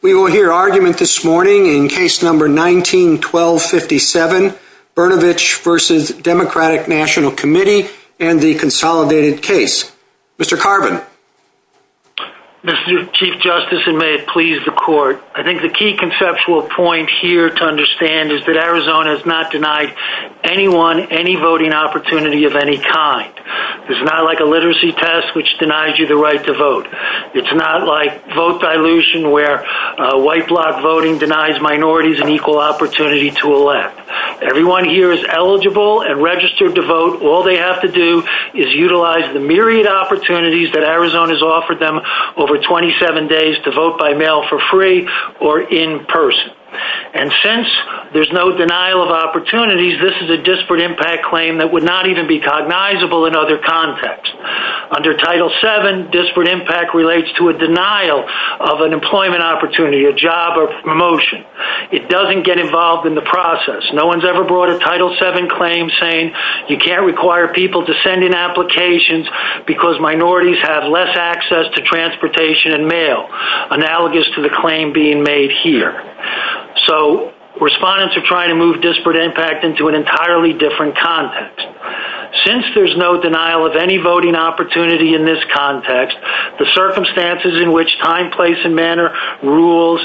We will hear argument this morning in case number 19-1257, Brnovich v. Democratic National Committee and the consolidated case. Mr. Carbon. Mr. Chief Justice, and may it please the court, I think the key conceptual point here to understand is that Arizona has not denied anyone any voting opportunity of any kind. It's not like a literacy test which denies you the right to vote. It's not like vote dilution where white block voting denies minorities an equal opportunity to elect. Everyone here is eligible and registered to vote. All they have to do is utilize the myriad opportunities that Arizona has offered them over 27 days to vote by mail for free or in person. And since there's no denial of opportunities, this is a disparate impact claim that would not even be cognizable in other contexts. Under Title VII, disparate impact relates to a denial of an employment opportunity, a job or promotion. It doesn't get involved in the process. No one's ever brought a Title VII claim saying you can't require people to send in applications because minorities have less access to transportation and mail, analogous to the claim being made here. So respondents are trying to move disparate impact into an entirely different context. Since there's no denial of any voting opportunity in this context, the circumstances in which time, place and manner rules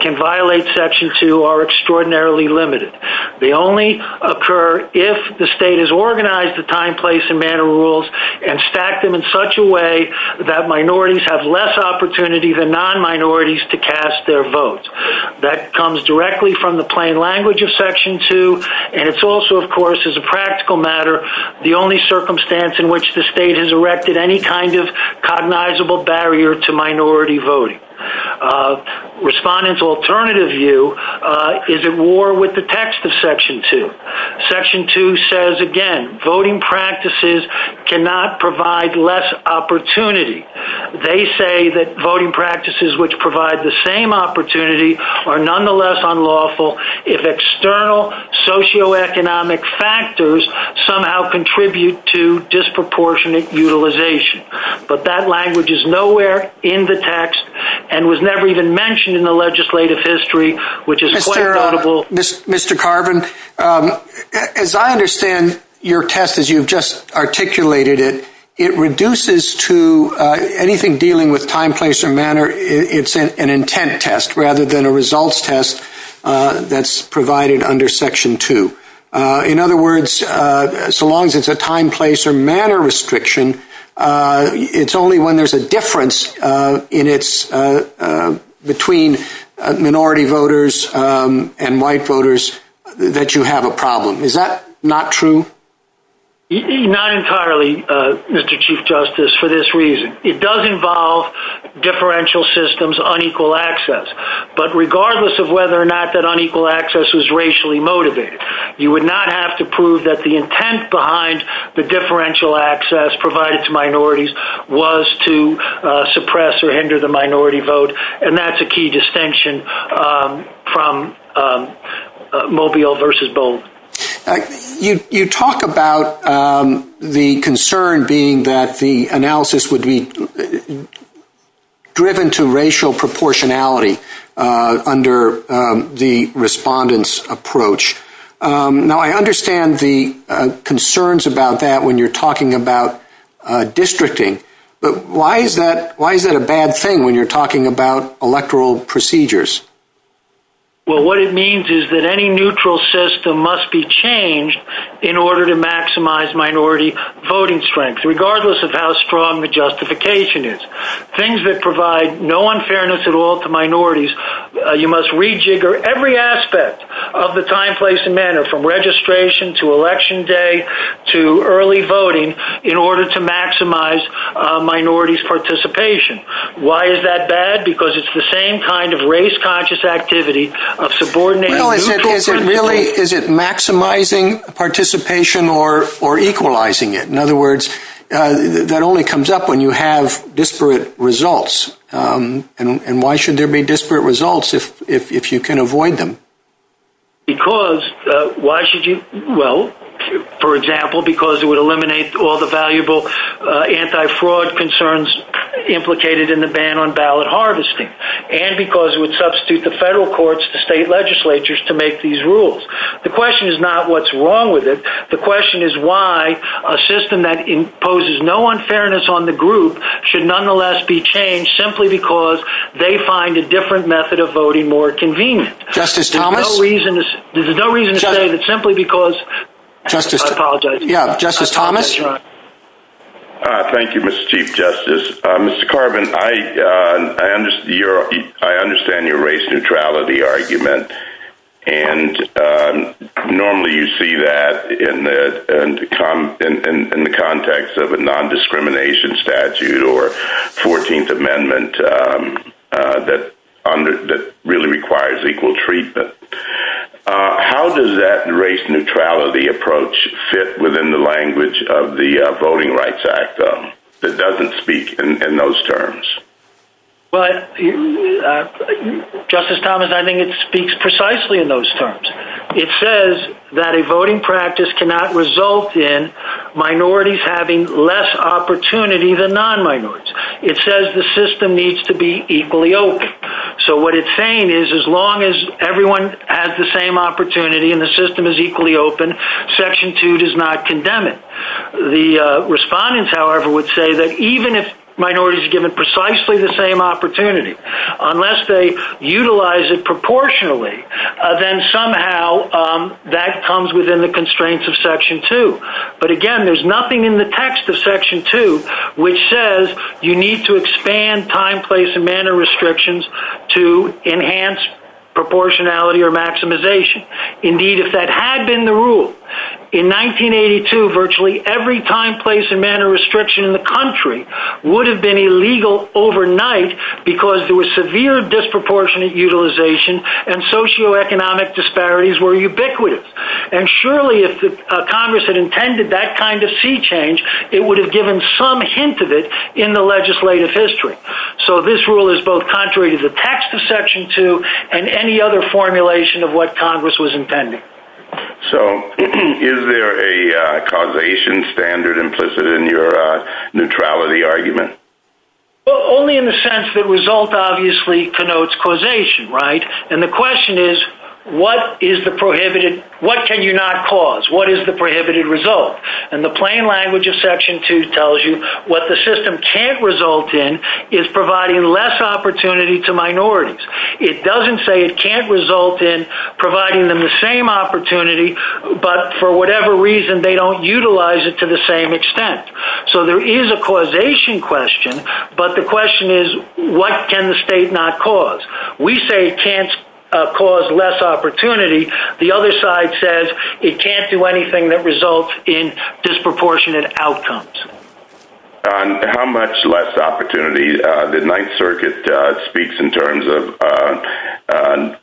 can violate Section II are extraordinarily limited. They only occur if the state has organized the time, place and manner rules and stacked them in such a way that minorities have less opportunity than non-minorities to cast their votes. That comes directly from the plain language of Section II and it's also, of course, as a practical matter, the only circumstance in which the state has erected any kind of cognizable barrier to minority voting. Respondents' alternative view is at war with the text of Section II. Section II says, again, voting practices cannot provide less opportunity. They say that voting practices which provide the same opportunity are nonetheless unlawful if external socioeconomic factors somehow contribute to disproportionate utilization. But that language is nowhere in the text and was never even mentioned in the legislative history, which is quite laudable. Mr. Carbon, as I understand your test as you've just articulated it, it reduces to anything dealing with time, place or manner. It's an intent test rather than a results test that's provided under Section II. In other words, so long as it's a time, place or manner restriction, it's only when there's a difference between minority voters and white voters that you have a problem. Is that not true? Not entirely, Mr. Chief Justice, for this reason. It does involve differential systems, unequal access. But regardless of whether or not that unequal access is racially motivated, you would not have to prove that the intent behind the differential access provided to minorities was to suppress or hinder the minority vote. And that's a key distinction from Mobile v. Bolden. You talk about the concern being that the analysis would be driven to racial proportionality under the respondent's approach. Now, I understand the concerns about that when you're talking about districting. But why is that a bad thing when you're talking about electoral procedures? Well, what it means is that any neutral system must be changed in order to maximize minority voting strength, regardless of how strong the justification is. Things that provide no unfairness at all to minorities, you must rejigger every aspect of the time, place and manner from registration to election day to early voting in order to maximize minorities' participation. Why is that bad? Because it's the same kind of race-conscious activity of subordinating... Is it maximizing participation or equalizing it? In other words, that only comes up when you have disparate results. And why should there be disparate results if you can avoid them? Well, for example, because it would eliminate all the valuable anti-fraud concerns implicated in the ban on ballot harvesting. And because it would substitute the federal courts, the state legislatures to make these rules. The question is not what's wrong with it. The question is why a system that imposes no unfairness on the group should nonetheless be changed simply because they find a different method of voting more convenient. Justice Thomas? There's no reason to say that simply because... Justice... I apologize. Justice Thomas? Thank you, Mr. Chief Justice. Mr. Carvin, I understand your race neutrality argument. And normally you see that in the context of a non-discrimination statute or 14th Amendment that really requires equal treatment. How does that race neutrality approach fit within the language of the Voting Rights Act that doesn't speak in those terms? But, Justice Thomas, I think it speaks precisely in those terms. It says that a voting practice cannot result in minorities having less opportunity than non-minorities. It says the system needs to be equally open. So what it's saying is as long as everyone has the same opportunity and the system is equally open, Section 2 does not condemn it. The respondents, however, would say that even if minorities are given precisely the same opportunity, unless they utilize it proportionally, then somehow that comes within the constraints of Section 2. But, again, there's nothing in the text of Section 2 which says you need to expand time, place, and manner restrictions to enhance proportionality or maximization. Indeed, if that had been the rule, in 1982 virtually every time, place, and manner restriction in the country would have been illegal overnight because there was severe disproportionate utilization and socioeconomic disparities were ubiquitous. And surely if Congress had intended that kind of sea change, it would have given some hint of it in the legislative history. So this rule is both contrary to the text of Section 2 and any other formulation of what Congress was intending. So is there a causation standard implicit in your neutrality argument? Well, only in the sense that result obviously connotes causation, right? And the question is what can you not cause? What is the prohibited result? And the plain language of Section 2 tells you what the system can't result in is providing less opportunity to minorities. It doesn't say it can't result in providing them the same opportunity, but for whatever reason they don't utilize it to the same extent. So there is a causation question, but the question is what can the state not cause? We say it can't cause less opportunity. The other side says it can't do anything that results in disproportionate outcomes. And how much less opportunity did Ninth Circuit speak in terms of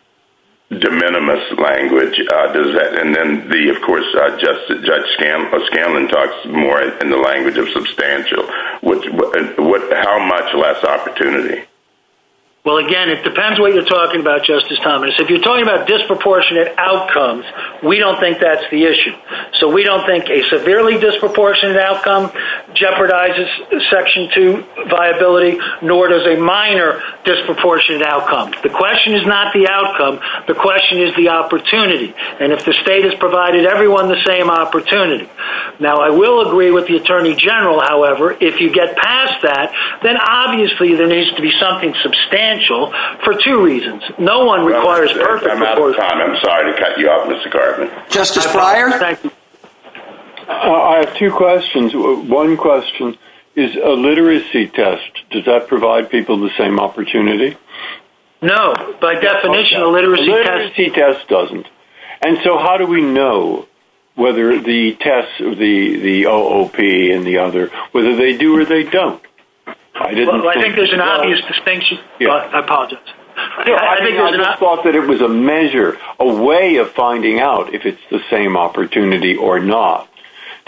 de minimis language? And then the, of course, Judge Scanlon talks more in the language of substantial. How much less opportunity? Well, again, it depends what you're talking about, Justice Thomas. If you're talking about disproportionate outcomes, we don't think that's the issue. So we don't think a severely disproportionate outcome jeopardizes Section 2 viability, nor does a minor disproportionate outcome. The question is not the outcome. The question is the opportunity. And if the state has provided everyone the same opportunity. Now, I will agree with the Attorney General, however, if you get past that, then obviously there needs to be something substantial for two reasons. No one requires perfect. I'm out of time. I'm sorry to cut you off, Mr. Garvin. Justice Breyer? I have two questions. One question is a literacy test, does that provide people the same opportunity? No. By definition, a literacy test doesn't. And so how do we know whether the test, the OOP and the other, whether they do or they don't? I think there's an obvious distinction. I apologize. I thought that it was a measure, a way of finding out if it's the same opportunity or not,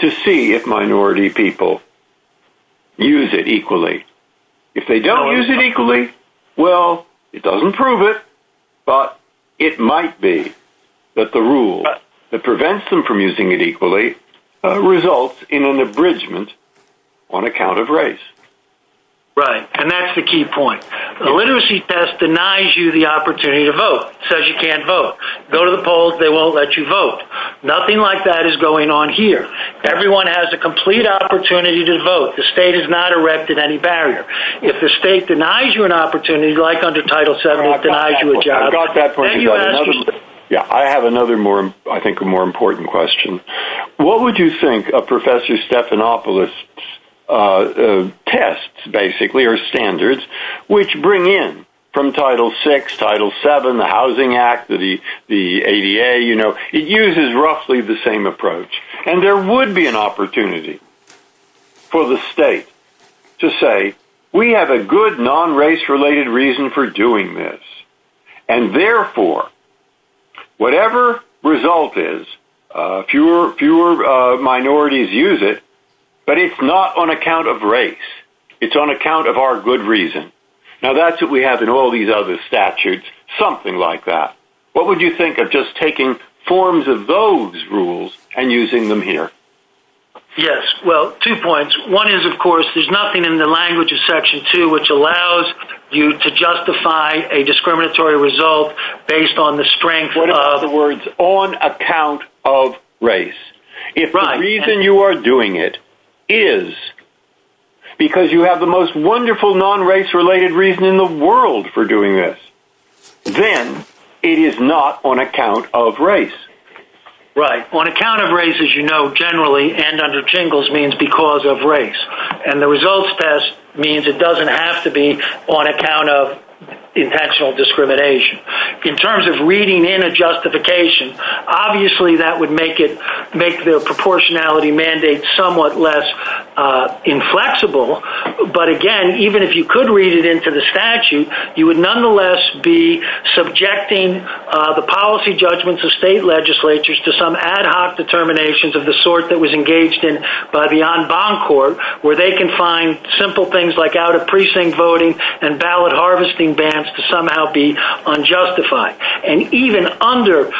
to see if minority people use it equally. If they don't use it equally, well, it doesn't prove it. But it might be that the rule that prevents them from using it equally results in an abridgment on account of race. Right. And that's the key point. The literacy test denies you the opportunity to vote. It says you can't vote. Go to the polls, they won't let you vote. Nothing like that is going on here. Everyone has a complete opportunity to vote. The state has not erected any barrier. If the state denies you an opportunity, like under Title VII, it denies you a job. I have another more, I think, a more important question. What would you think of Professor Stephanopoulos' tests, basically, or standards, which bring in from Title VI, Title VII, the Housing Act, the ADA, you know, it uses roughly the same approach. And there would be an opportunity for the state to say, we have a good non-race-related reason for doing this. And, therefore, whatever result is, fewer minorities use it, but it's not on account of race. It's on account of our good reason. Now, that's what we have in all these other statutes, something like that. What would you think of just taking forms of those rules and using them here? Yes, well, two points. One is, of course, there's nothing in the language of Section II which allows you to justify a discriminatory result based on the strength of— In other words, on account of race. Right. If the reason you are doing it is because you have the most wonderful non-race-related reason in the world for doing this, then it is not on account of race. Right. On account of race, as you know, generally, and under jingles means because of race. And the results test means it doesn't have to be on account of potential discrimination. In terms of reading in a justification, obviously that would make the proportionality mandate somewhat less inflexible, but, again, even if you could read it into the statute, you would nonetheless be subjecting the policy judgments of state legislatures to some ad hoc determinations of the sort that was engaged in by the en banc court, where they can find simple things like out-of-precinct voting and ballot harvesting bans to somehow be unjustified. And even under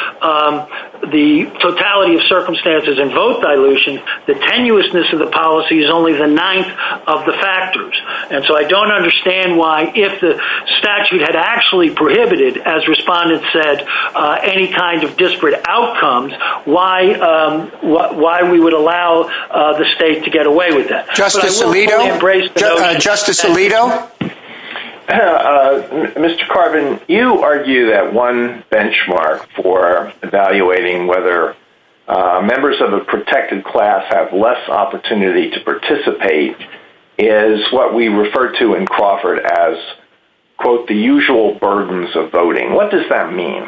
the totality of circumstances and vote dilution, the tenuousness of the policy is only the ninth of the factors. And so I don't understand why, if the statute had actually prohibited, as respondents said, any kind of disparate outcomes, why we would allow the state to get away with that. Justice Alito? Mr. Carvin, you argue that one benchmark for evaluating whether members of a protected class have less opportunity to participate is what we refer to in Crawford as, quote, the usual burdens of voting. What does that mean?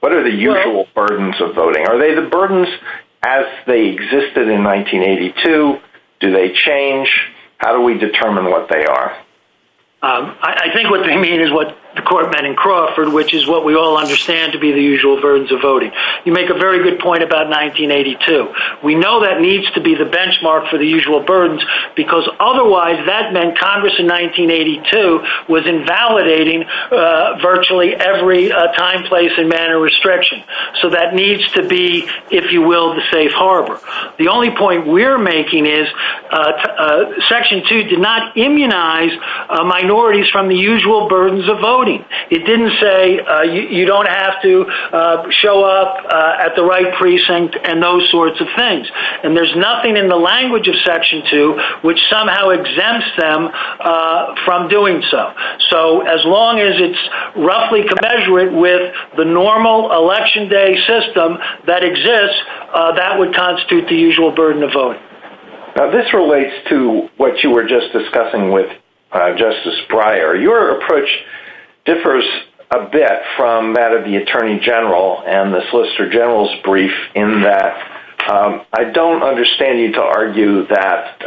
What are the usual burdens of voting? Are they the burdens as they existed in 1982? Do they change? How do we determine what they are? I think what they mean is what the court meant in Crawford, which is what we all understand to be the usual burdens of voting. You make a very good point about 1982. We know that needs to be the benchmark for the usual burdens, because otherwise that meant Congress in 1982 was invalidating virtually every time, place, and manner of restriction. So that needs to be, if you will, the safe harbor. The only point we're making is Section 2 did not immunize minorities from the usual burdens of voting. It didn't say you don't have to show up at the right precinct and those sorts of things. And there's nothing in the language of Section 2 which somehow exempts them from doing so. So as long as it's roughly commensurate with the normal election day system that exists, that would constitute the usual burden of voting. Now, this relates to what you were just discussing with Justice Breyer. Your approach differs a bit from that of the Attorney General and the Solicitor General's brief in that I don't understand you to argue that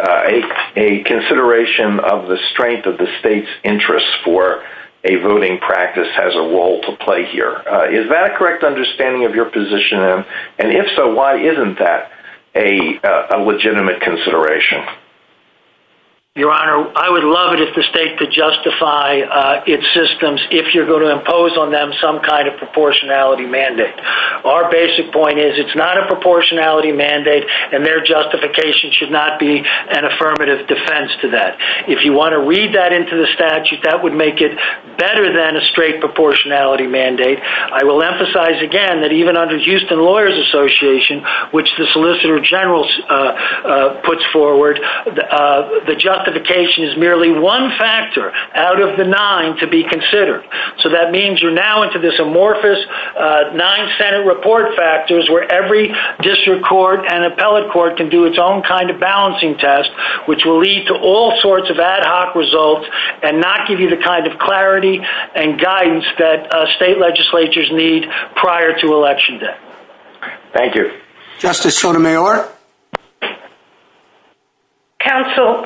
a consideration of the strength of the state's interest for a voting practice has a role to play here. Is that a correct understanding of your position? And if so, why isn't that a legitimate consideration? Your Honor, I would love it if the state could justify its systems if you're going to impose on them some kind of proportionality mandate. Our basic point is it's not a proportionality mandate and their justification should not be an affirmative defense to that. If you want to read that into the statute, that would make it better than a straight proportionality mandate. I will emphasize again that even under the Houston Lawyers Association, which the Solicitor General puts forward, the justification is merely one factor out of the nine to be considered. So that means you're now into this amorphous nine Senate report factors where every district court and appellate court can do its own kind of balancing test, which will lead to all sorts of ad hoc results and not give you the kind of clarity and guidance that state legislatures need prior to Election Day. Thank you. Justice Sotomayor? Counsel,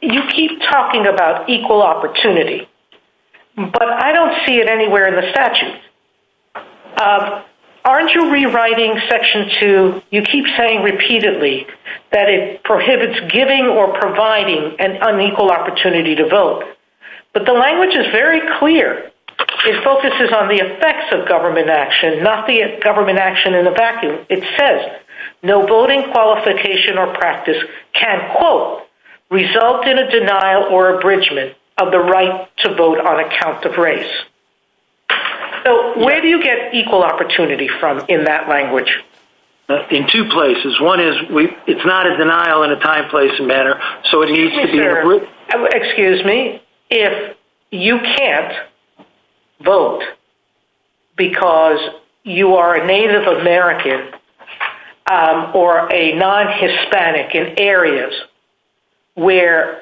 you keep talking about equal opportunity, but I don't see it anywhere in the statute. Aren't you rewriting Section 2? You keep saying repeatedly that it prohibits giving or providing an unequal opportunity to vote. But the language is very clear. It focuses on the effects of government action, not the government action in a vacuum. It says no voting qualification or practice can, quote, result in a denial or abridgment of the right to vote on account of race. So where do you get equal opportunity from in that language? In two places. One is it's not a denial in a time, place, and manner. Excuse me. I think if you can't vote because you are a Native American or a non-Hispanic in areas where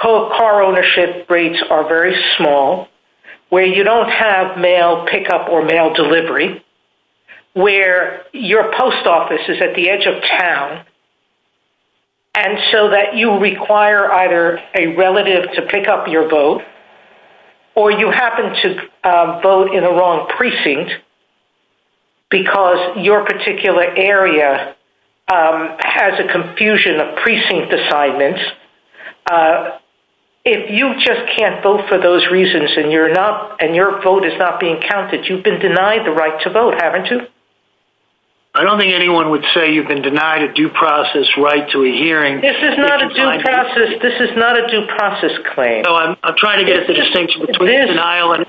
car ownership rates are very small, where you don't have mail pickup or mail delivery, where your post office is at the edge of town, and so that you require either a relative to pick up your mail, or a relative to pick up your mail. Or you happen to vote in the wrong precinct because your particular area has a confusion of precinct assignments. If you just can't vote for those reasons and your vote is not being counted, you've been denied the right to vote, haven't you? I don't think anyone would say you've been denied a due process right to a hearing. This is not a due process claim. I'm trying to get the distinction between denial and...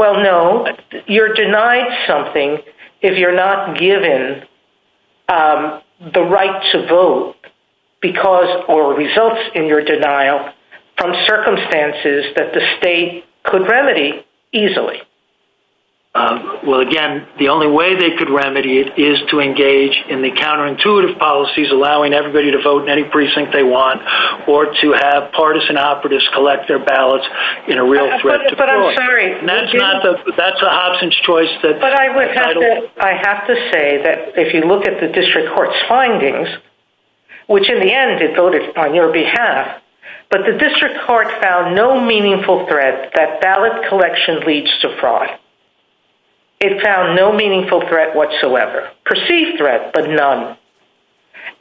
Well, no. You're denied something if you're not given the right to vote because or results in your denial from circumstances that the state could remedy easily. Well, again, the only way they could remedy it is to engage in the counterintuitive policies, allowing everybody to vote in any precinct they want, or to have partisan operatives collect their ballots in a real threat to court. But I'm sorry. That's a Hobson's choice that... I have to say that if you look at the district court's findings, which in the end it voted on your behalf, but the district court found no meaningful threat that ballot collection leads to fraud. It found no meaningful threat whatsoever. Perceived threat, but none.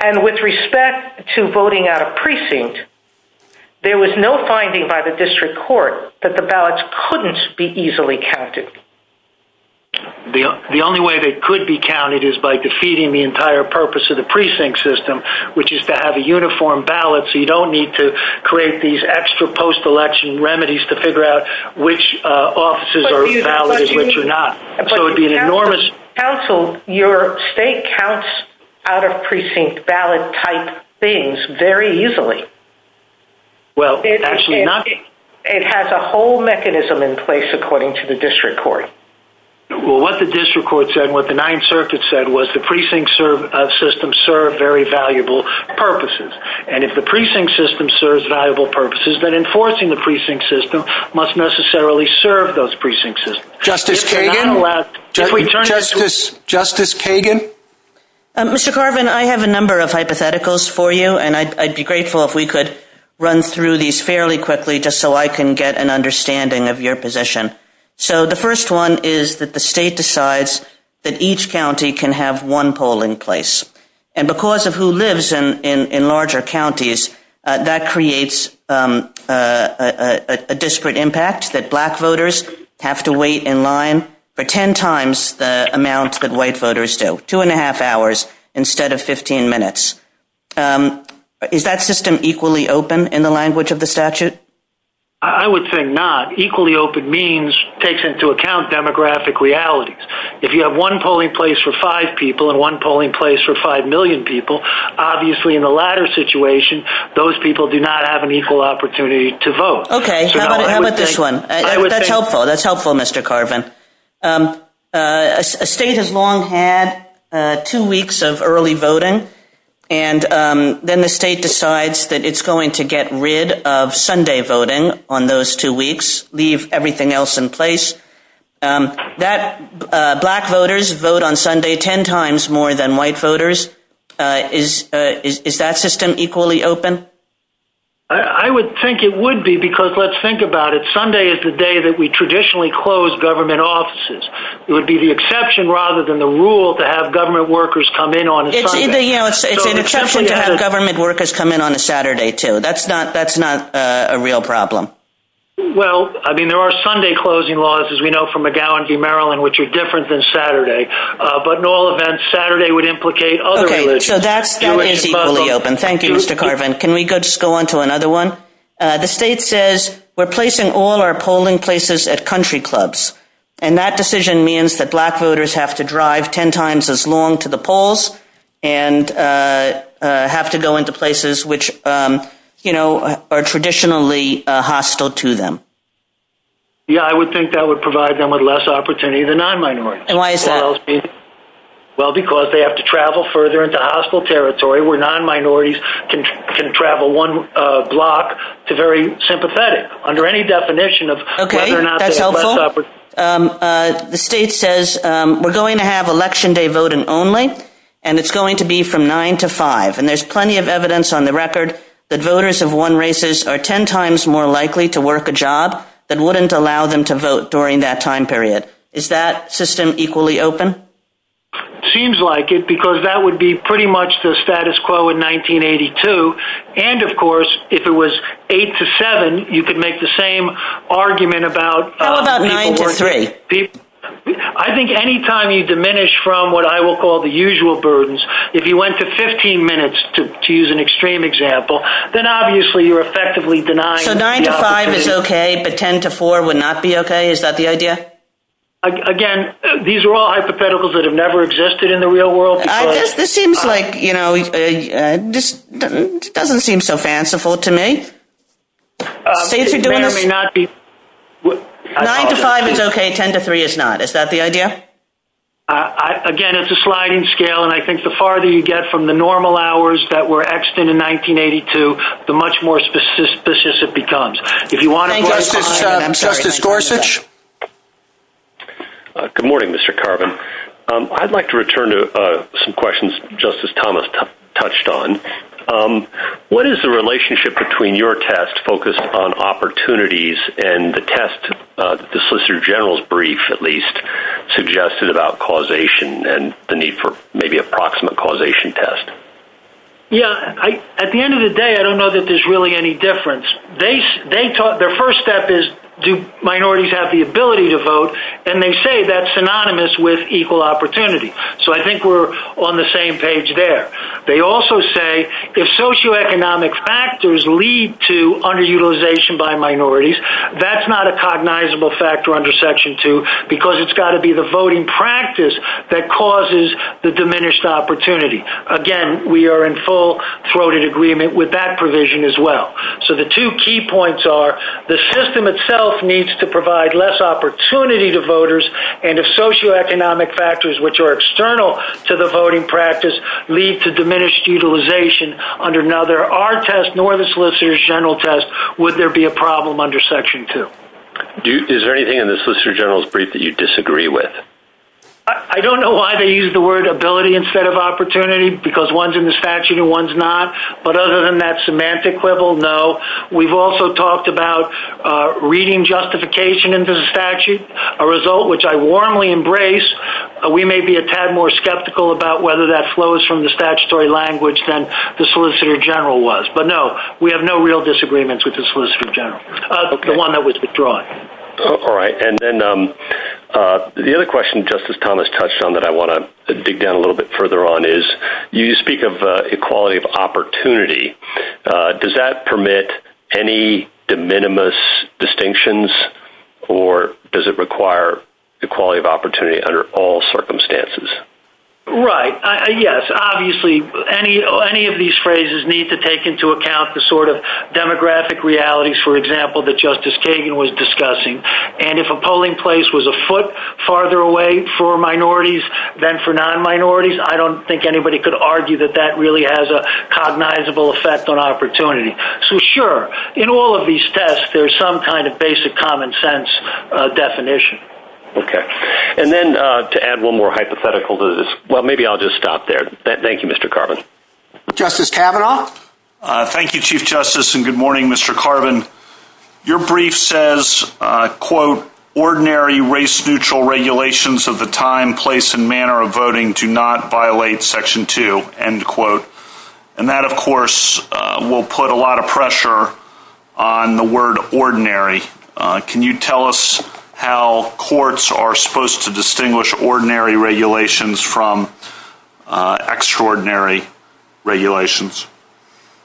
And with respect to voting out of precinct, there was no finding by the district court that the ballots couldn't be easily counted. The only way they could be counted is by defeating the entire purpose of the precinct system, which is to have a uniform ballot so you don't need to create these extra post-election remedies to figure out which offices are valid and which are not. So it would be an enormous... Counsel, your state counts out of precinct ballot type things very easily. Well, actually not... It has a whole mechanism in place, according to the district court. Well, what the district court said, what the Ninth Circuit said, was the precinct system served very valuable purposes. And if the precinct system serves valuable purposes, then enforcing the precinct system must necessarily serve those precinct systems. Justice Kagan? Justice Kagan? Mr. Carvin, I have a number of hypotheticals for you, and I'd be grateful if we could run through these fairly quickly just so I can get an understanding of your position. So the first one is that the state decides that each county can have one poll in place. And because of who lives in larger counties, that creates a disparate impact that black voters have to wait in line for 10 times the amount that white voters do, two and a half hours instead of 15 minutes. Is that system equally open in the language of the statute? I would say not. Equally open means takes into account demographic realities. If you have one polling place for five people and one polling place for five million people, obviously in the latter situation, those people do not have an equal opportunity to vote. Okay. How about this one? That's helpful. That's helpful, Mr. Carvin. A state has long had two weeks of early voting, and then the state decides that it's going to get rid of Sunday voting on those two weeks, leave everything else in place. Black voters vote on Sunday 10 times more than white voters. Is that system equally open? I would think it would be, because let's think about it. Sunday is the day that we traditionally close government offices. It would be the exception rather than the rule to have government workers come in on Sunday. It's an exception to have government workers come in on a Saturday, too. That's not a real problem. Well, I mean, there are Sunday closing laws, as we know from McGowan v. Maryland, which are different than Saturday. But in all events, Saturday would implicate other religions. Okay. So that's equally open. Thank you, Mr. Carvin. Can we just go on to another one? The state says, we're placing all our polling places at country clubs. And that decision means that black voters have to drive 10 times as long to the polls and have to go into places which are traditionally hostile to them. Yeah, I would think that would provide them with less opportunity than non-minorities. And why is that? Well, because they have to travel further into hostile territory where non-minorities can travel one block to very sympathetic. Okay, that's helpful. The state says, we're going to have election day voting only, and it's going to be from 9 to 5. And there's plenty of evidence on the record that voters of one races are 10 times more likely to work a job that wouldn't allow them to vote during that time period. Is that system equally open? Seems like it, because that would be pretty much the status quo in 1982. And, of course, if it was 8 to 7, you could make the same argument about- How about 9 to 3? I think any time you diminish from what I will call the usual burdens, if you went to 15 minutes, to use an extreme example, then obviously you're effectively denying- So 9 to 5 is okay, but 10 to 4 would not be okay? Is that the idea? Again, these are all hypotheticals that have never existed in the real world. This doesn't seem so fanciful to me. 9 to 5 is okay, 10 to 3 is not. Is that the idea? Again, it's a sliding scale, and I think the farther you get from the normal hours that were etched in in 1982, the much more specific it becomes. If you want to- Thank you for your time. Justice Gorsuch? Good morning, Mr. Carvin. I'd like to return to some questions Justice Thomas touched on. What is the relationship between your test focused on opportunities and the test-the Solicitor General's brief, at least-suggested about causation and the need for maybe a proximate causation test? Yeah, at the end of the day, I don't know that there's really any difference. Their first step is do minorities have the ability to vote, and they say that's synonymous with equal opportunity. So I think we're on the same page there. They also say if socioeconomic factors lead to underutilization by minorities, that's not a cognizable factor under Section 2 because it's got to be the voting practice that causes the diminished opportunity. Again, we are in full-throated agreement with that provision as well. So the two key points are the system itself needs to provide less opportunity to voters, and if socioeconomic factors, which are external to the voting practice, lead to diminished utilization under-now, there are tests, nor the Solicitor General test, would there be a problem under Section 2? Is there anything in the Solicitor General's brief that you disagree with? I don't know why they used the word ability instead of opportunity, because one's in the statute and one's not. But other than that semantic level, no. We've also talked about reading justification into the statute, a result which I warmly embrace. We may be a tad more skeptical about whether that flows from the statutory language than the Solicitor General was. But no, we have no real disagreements with the Solicitor General, the one that was withdrawn. All right. And then the other question Justice Thomas touched on that I want to dig down a little bit further on is you speak of equality of opportunity. Does that permit any de minimis distinctions, or does it require equality of opportunity under all circumstances? Right. Yes. Obviously, any of these phrases need to take into account the sort of demographic realities, for example, that Justice Kagan was discussing. And if a polling place was a foot farther away for minorities than for non-minorities, I don't think anybody could argue that that really has a cognizable effect on opportunity. So, sure, in all of these tests, there's some kind of basic common-sense definition. Okay. And then to add one more hypothetical to this, well, maybe I'll just stop there. Thank you, Mr. Carbon. Justice Kavanaugh? Thank you, Chief Justice, and good morning, Mr. Carbon. Your brief says, quote, ordinary race-neutral regulations of the time, place, and manner of voting do not violate Section 2, end quote. And that, of course, will put a lot of pressure on the word ordinary. Can you tell us how courts are supposed to distinguish ordinary regulations from extraordinary regulations?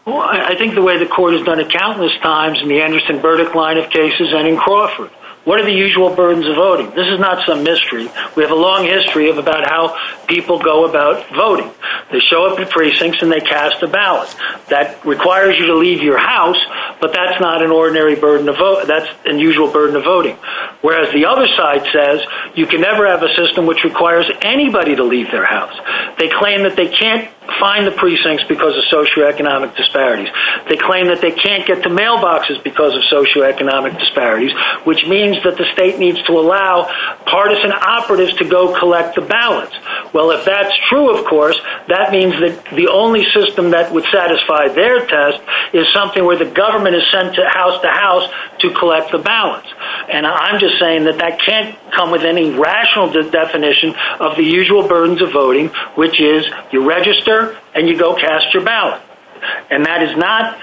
Well, I think the way the court has done it countless times in the Anderson-Burdick line of cases and in Crawford, what are the usual burdens of voting? This is not some mystery. We have a long history about how people go about voting. They show up in precincts and they cast a ballot. That requires you to leave your house, but that's not an ordinary burden of vote. That's an usual burden of voting. Whereas the other side says you can never have a system which requires anybody to leave their house. They claim that they can't find the precincts because of socioeconomic disparities. They claim that they can't get to mailboxes because of socioeconomic disparities, which means that the state needs to allow partisan operatives to go collect the ballots. Well, if that's true, of course, that means that the only system that would satisfy their test is something where the government is sent house to house to collect the ballots. And I'm just saying that that can't come with any rational definition of the usual burdens of voting, which is you register and you go cast your ballot. And that is not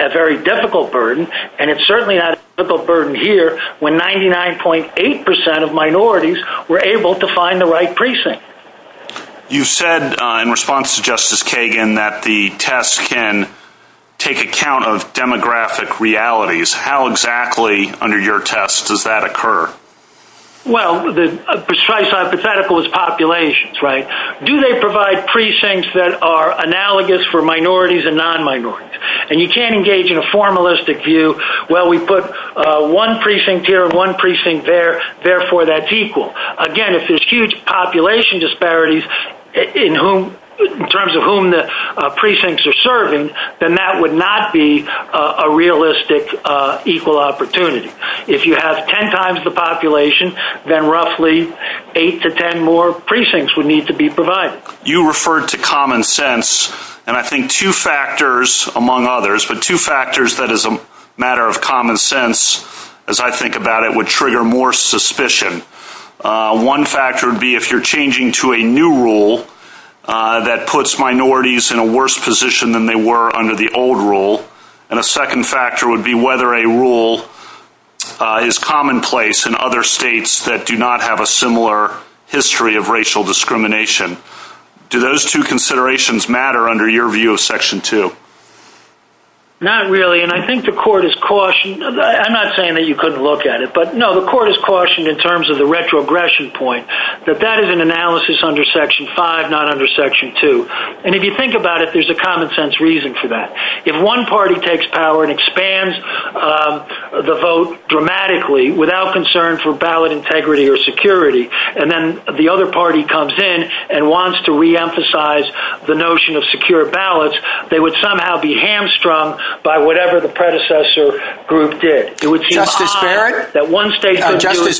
a very difficult burden, and it's certainly not a difficult burden here when 99.8% of minorities were able to find the right precinct. You said in response to Justice Kagan that the tests can take account of demographic realities. How exactly under your test does that occur? Well, the precise hypothetical is populations, right? Do they provide precincts that are analogous for minorities and non-minorities? And you can't engage in a formalistic view, well, we put one precinct here and one precinct there, therefore that's equal. Again, if there's huge population disparities in terms of whom the precincts are serving, then that would not be a realistic equal opportunity. If you have ten times the population, then roughly eight to ten more precincts would need to be provided. You referred to common sense, and I think two factors among others, but two factors that as a matter of common sense, as I think about it, would trigger more suspicion. One factor would be if you're changing to a new rule that puts minorities in a worse position than they were under the old rule. And a second factor would be whether a rule is commonplace in other states that do not have a similar history of racial discrimination. Do those two considerations matter under your view of Section 2? Not really, and I think the court is cautioned. I'm not saying that you couldn't look at it, but no, the court is cautioned in terms of the retrogression point, that that is an analysis under Section 5, not under Section 2. And if you think about it, there's a common sense reason for that. If one party takes power and expands the vote dramatically without concern for ballot integrity or security, and then the other party comes in and wants to reemphasize the notion of secure ballots, they would somehow be hamstrung by whatever the predecessor group did. Justice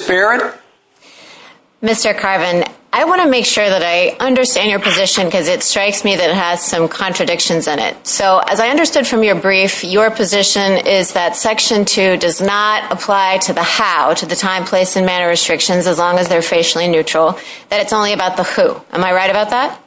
Barrett? Mr. Carvin, I want to make sure that I understand your position because it strikes me that it has some contradictions in it. So as I understood from your brief, your position is that Section 2 does not apply to the how, to the time, place, and manner restrictions as long as they're facially neutral, and it's only about the who. Am I right about that?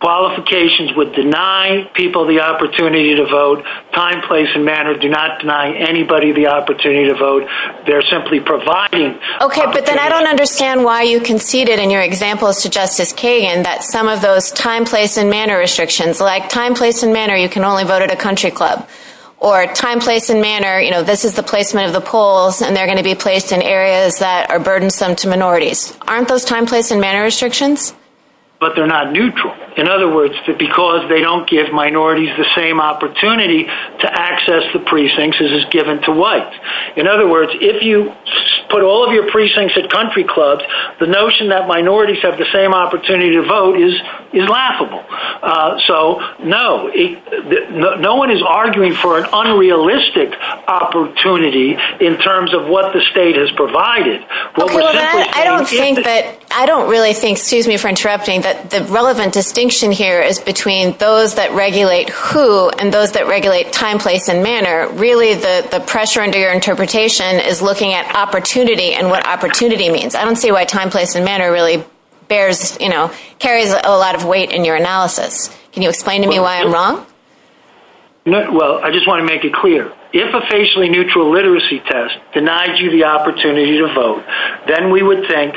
Qualifications would deny people the opportunity to vote. Time, place, and manner do not deny anybody the opportunity to vote. They're simply providing opportunities. Okay, but then I don't understand why you conceded in your examples to Justice Kagan that some of those time, place, and manner restrictions, like time, place, and manner, you can only vote at a country club, or time, place, and manner, you know, this is the placement of the polls, and they're going to be placed in areas that are burdensome to minorities. Aren't those time, place, and manner restrictions? But they're not neutral. In other words, because they don't give minorities the same opportunity to access the precincts as is given to whites. In other words, if you put all of your precincts at country clubs, the notion that minorities have the same opportunity to vote is laughable. So, no, no one is arguing for an unrealistic opportunity in terms of what the state has provided. I don't really think, excuse me for interrupting, but the relevant distinction here is between those that regulate who and those that regulate time, place, and manner. Really, the pressure under your interpretation is looking at opportunity and what opportunity means. I don't see why time, place, and manner really bears, you know, carries a lot of weight in your analysis. Can you explain to me why I'm wrong? Well, I just want to make it clear. If a facially neutral literacy test denies you the opportunity to vote, then we would think,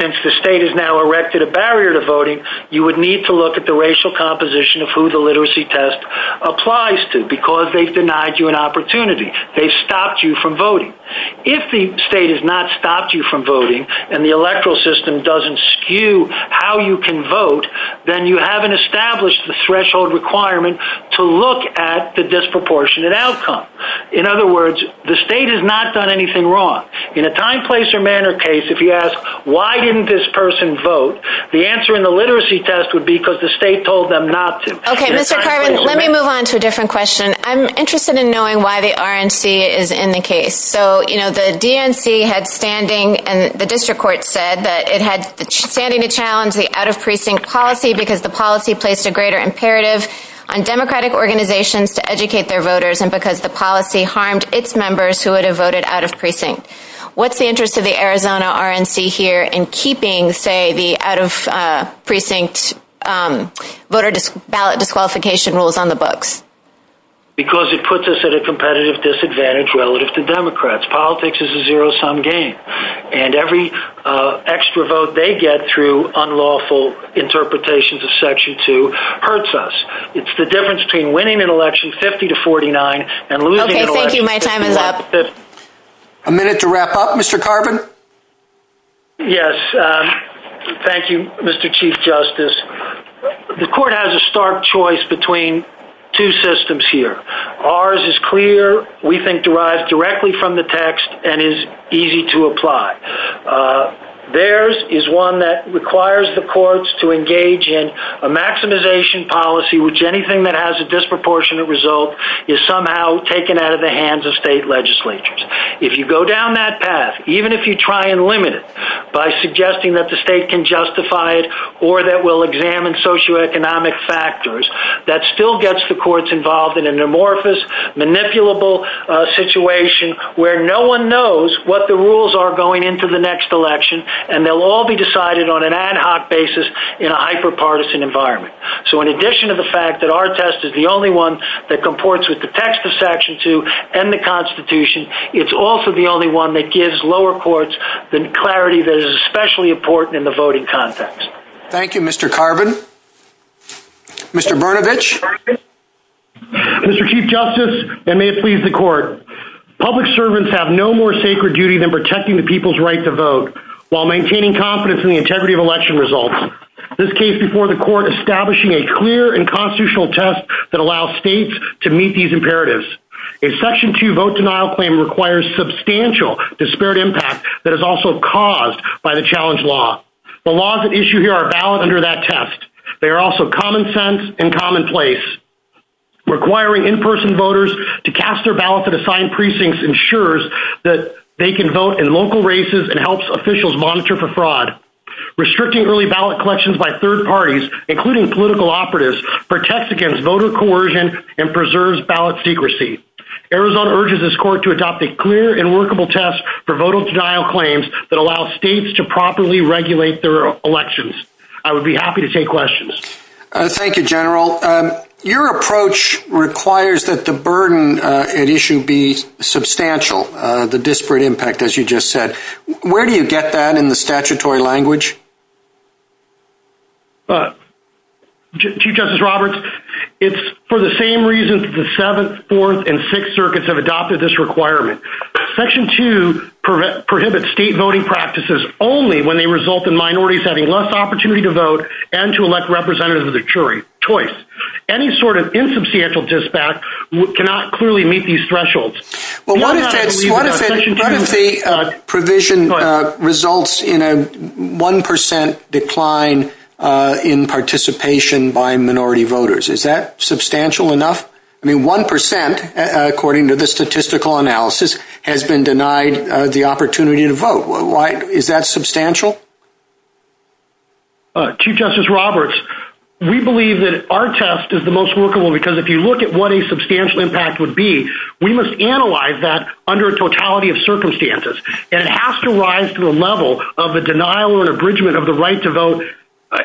since the state has now erected a barrier to voting, you would need to look at the racial composition of who the literacy test applies to, because they've denied you an opportunity. They've stopped you from voting. If the state has not stopped you from voting and the electoral system doesn't skew how you can vote, then you haven't established the threshold requirement to look at the disproportionate outcome. In other words, the state has not done anything wrong. In a time, place, or manner case, if you ask, why didn't this person vote, the answer in the literacy test would be because the state told them not to. Okay, Mr. Carvin, let me move on to a different question. I'm interested in knowing why the RNC is in the case. So, you know, the DNC had standing, and the district court said that it had standing to challenge the out-of-precinct policy because the policy placed a greater imperative on Democratic organizations to educate their voters and because the policy harmed its members who would have voted out-of-precinct. What's the interest of the Arizona RNC here in keeping, say, the out-of-precinct voter ballot disqualification rules on the books? Because it puts us at a competitive disadvantage relative to Democrats. Politics is a zero-sum game, and every extra vote they get through unlawful interpretations of Section 2 hurts us. It's the difference between winning an election 50 to 49 and losing an election 50 to 50. Okay, thank you. My time is up. A minute to wrap up, Mr. Carvin? Yes, thank you, Mr. Chief Justice. The court has a stark choice between two systems here. Ours is clear, we think derived directly from the text, and is easy to apply. Theirs is one that requires the courts to engage in a maximization policy, which anything that has a disproportionate result is somehow taken out of the hands of state legislatures. If you go down that path, even if you try and limit it by suggesting that the state can justify it or that we'll examine socioeconomic factors, that still gets the courts involved in an amorphous, manipulable situation where no one knows what the rules are going into the next election, and they'll all be decided on an ad hoc basis in a hyper-partisan environment. So in addition to the fact that our test is the only one that comports with the text of Section 2 and the Constitution, it's also the only one that gives lower courts the clarity that is especially important in the voting context. Thank you, Mr. Carvin. Mr. Brnovich? Mr. Chief Justice, and may it please the court, public servants have no more sacred duty than protecting the people's right to vote while maintaining confidence in the integrity of election results, this case before the court establishing a clear and constitutional test that allows states to meet these imperatives. A Section 2 vote denial claim requires substantial disparate impact that is also caused by the challenge law. The laws at issue here are valid under that test. They are also common sense and commonplace. Requiring in-person voters to cast their ballot at assigned precincts ensures that they can vote in local races and helps officials monitor for fraud. Restricting early ballot collections by third parties, including political operatives, protects against voter coercion and preserves ballot secrecy. Arizona urges this court to adopt a clear and workable test for vote denial claims that allow states to properly regulate their elections. I would be happy to take questions. Thank you, General. Your approach requires that the burden at issue be substantial, the disparate impact, as you just said. Where do you get that in the statutory language? Chief Justice Roberts, it's for the same reasons that the Seventh, Fourth, and Sixth Circuits have adopted this requirement. Section 2 prohibits state voting practices only when they result in minorities having less opportunity to vote and to elect representatives of their choice. Any sort of insubstantial dispatch cannot clearly meet these thresholds. What if the provision results in a 1% decline in participation by minority voters? Is that substantial enough? I mean, 1%, according to the statistical analysis, has been denied the opportunity to vote. Is that substantial? Chief Justice Roberts, we believe that our test is the most workable because if you look at what a substantial impact would be, we must analyze that under a totality of circumstances. And it has to rise to the level of a denial or an abridgment of the right to vote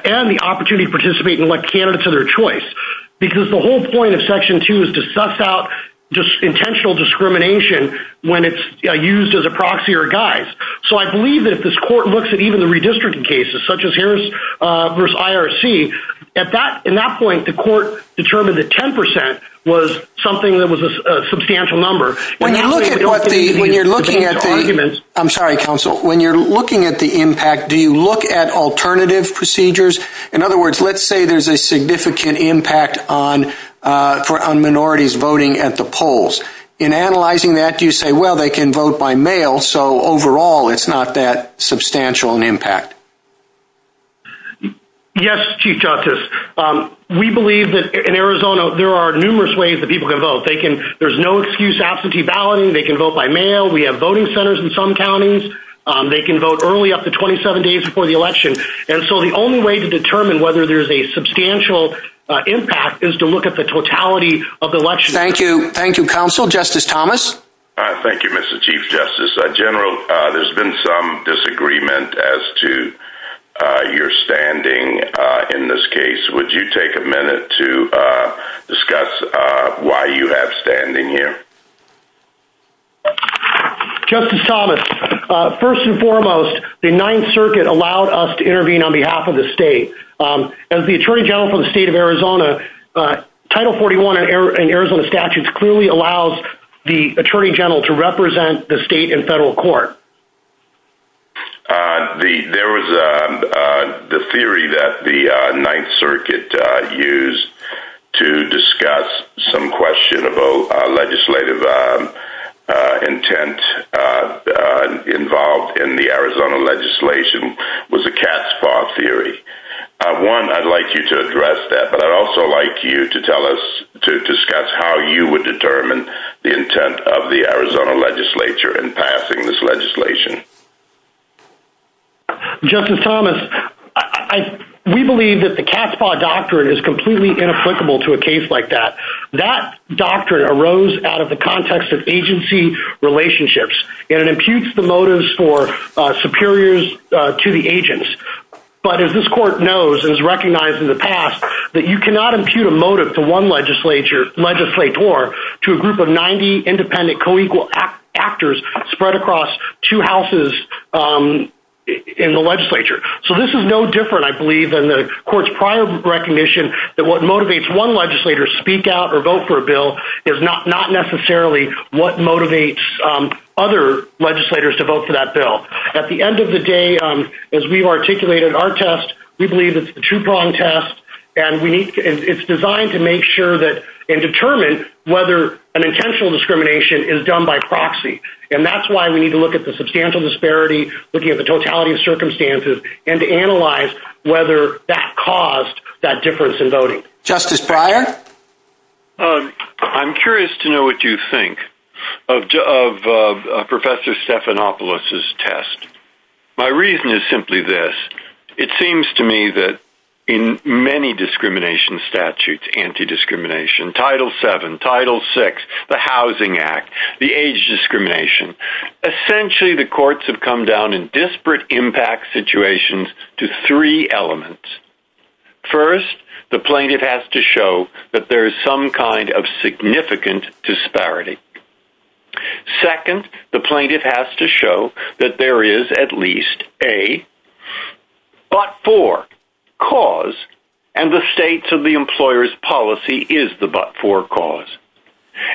and the opportunity to participate and elect candidates of their choice because the whole point of Section 2 is to suss out just intentional discrimination when it's used as a proxy or a guide. So I believe that if this court looks at even the redistricting cases, such as Harris v. IRC, at that point, the court determined that 10% was something that was a substantial number. I'm sorry, counsel. When you're looking at the impact, do you look at alternative procedures? In other words, let's say there's a significant impact on minorities voting at the polls. In analyzing that, do you say, well, they can vote by mail, so overall it's not that substantial an impact? Yes, Chief Justice. We believe that in Arizona there are numerous ways that people can vote. There's no excuse to absentee balloting. They can vote by mail. We have voting centers in some counties. They can vote early, up to 27 days before the election. And so the only way to determine whether there's a substantial impact is to look at the totality of the election. Thank you. Thank you, counsel. Justice Thomas? Thank you, Mr. Chief Justice. General, there's been some disagreement as to your standing in this case. Would you take a minute to discuss why you have standing here? Justice Thomas, first and foremost, the Ninth Circuit allowed us to intervene on behalf of the state. As the Attorney General for the state of Arizona, Title 41 in Arizona statutes clearly allows the Attorney General to represent the state in federal court. There was the theory that the Ninth Circuit used to discuss some questionable legislative intent involved in the Arizona legislation was the cat's paw theory. One, I'd like you to address that, but I'd also like you to tell us to discuss how you would determine the intent of the Arizona legislature in passing this legislation. Justice Thomas, we believe that the cat's paw doctrine is completely inapplicable to a case like that. That doctrine arose out of the context of agency relationships, and it imputes the motives for superiors to the agents. But as this court knows and has recognized in the past, that you cannot impute a motive to one legislator to a group of 90 independent co-equal actors spread across two houses in the legislature. So this is no different, I believe, than the court's prior recognition that what motivates one legislator to speak out or vote for a bill is not necessarily what motivates other legislators to vote for that bill. At the end of the day, as we've articulated in our test, we believe it's the true-wrong test, and it's designed to make sure and determine whether an intentional discrimination is done by proxy. And that's why we need to look at the substantial disparity, looking at the totality of circumstances, and to analyze whether that caused that difference in voting. Justice Breyer? I'm curious to know what you think of Professor Stephanopoulos' test. My reason is simply this. It seems to me that in many discrimination statutes, anti-discrimination, Title VII, Title VI, the Housing Act, the age discrimination, essentially the courts have come down in disparate impact situations to three elements. First, the plaintiff has to show that there's some kind of significant disparity. Second, the plaintiff has to show that there is at least a but-for cause, and the states of the employer's policy is the but-for cause.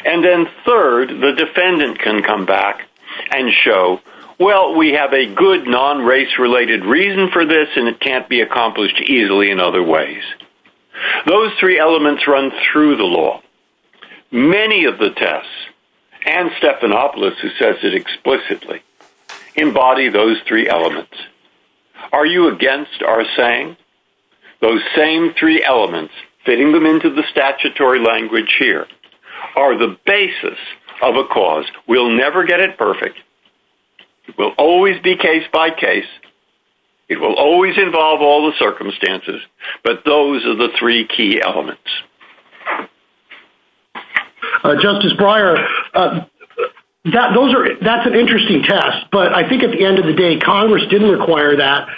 And then third, the defendant can come back and show, well, we have a good non-race-related reason for this, and it can't be accomplished easily in other ways. Those three elements run through the law. Many of the tests, and Stephanopoulos, who says it explicitly, embody those three elements. Are you against our saying? Those same three elements, fitting them into the statutory language here, are the basis of a cause. We'll never get it perfect. It will always be case by case. It will always involve all the circumstances, but those are the three key elements. Justice Breyer, that's an interesting test, but I think at the end of the day, Congress didn't require that.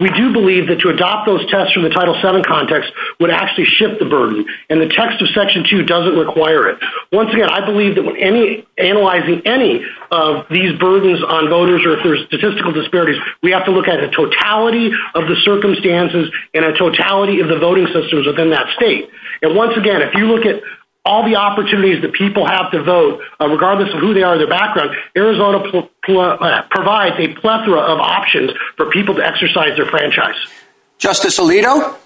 We do believe that to adopt those tests from the Title VII context would actually shift the burden, and the text of Section 2 doesn't require it. Once again, I believe that analyzing any of these burdens on voters or if there's statistical disparities, we have to look at the totality of the circumstances and a totality of the voting systems within that state. Once again, if you look at all the opportunities that people have to vote, regardless of who they are and their background, Arizona provides a plethora of options for people to exercise their franchise. Justice Alito?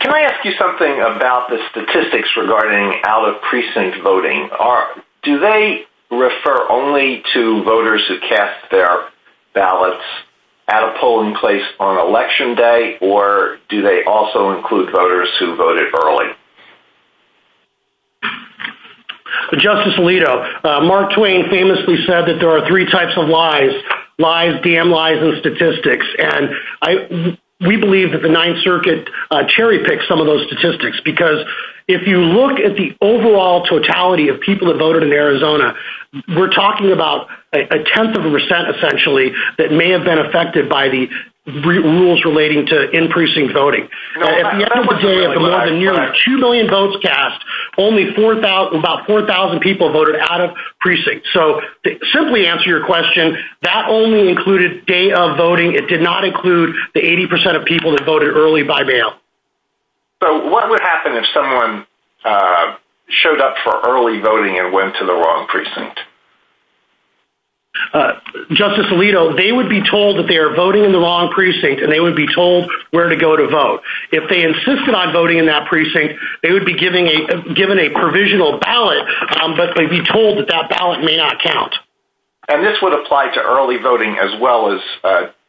Can I ask you something about the statistics regarding out-of-precinct voting? Do they refer only to voters who cast their ballots at a polling place on Election Day, or do they also include voters who voted early? Justice Alito, Mark Twain famously said that there are three types of lies, lies, damn lies, and statistics. We believe that the Ninth Circuit cherry-picked some of those statistics, because if you look at the overall totality of people that voted in Arizona, we're talking about a tenth of a percent, essentially, that may have been affected by the rules relating to in-precinct voting. At the end of the day, of the month and year, of 2 million votes cast, only about 4,000 people voted out-of-precinct. So, to simply answer your question, that only included day-of voting. It did not include the 80% of people that voted early by mail. So, what would happen if someone showed up for early voting and went to the wrong precinct? Justice Alito, they would be told that they are voting in the wrong precinct, and they would be told where to go to vote. If they insisted on voting in that precinct, they would be given a provisional ballot, but they'd be told that that ballot may not count. And this would apply to early voting as well as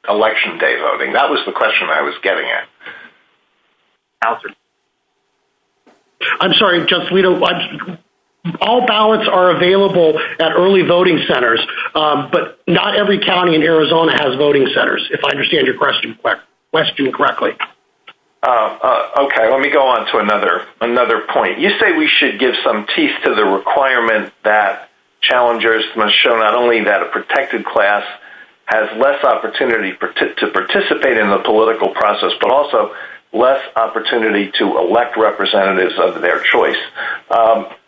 Election Day voting. That was the question I was getting at. I'm sorry, Justice Alito. All ballots are available at early voting centers, but not every county in Arizona has voting centers, if I understand your question correctly. Okay, let me go on to another point. You say we should give some teeth to the requirement that challengers must show not only that a protected class has less opportunity to participate in the political process, but also less opportunity to elect representatives of their choice.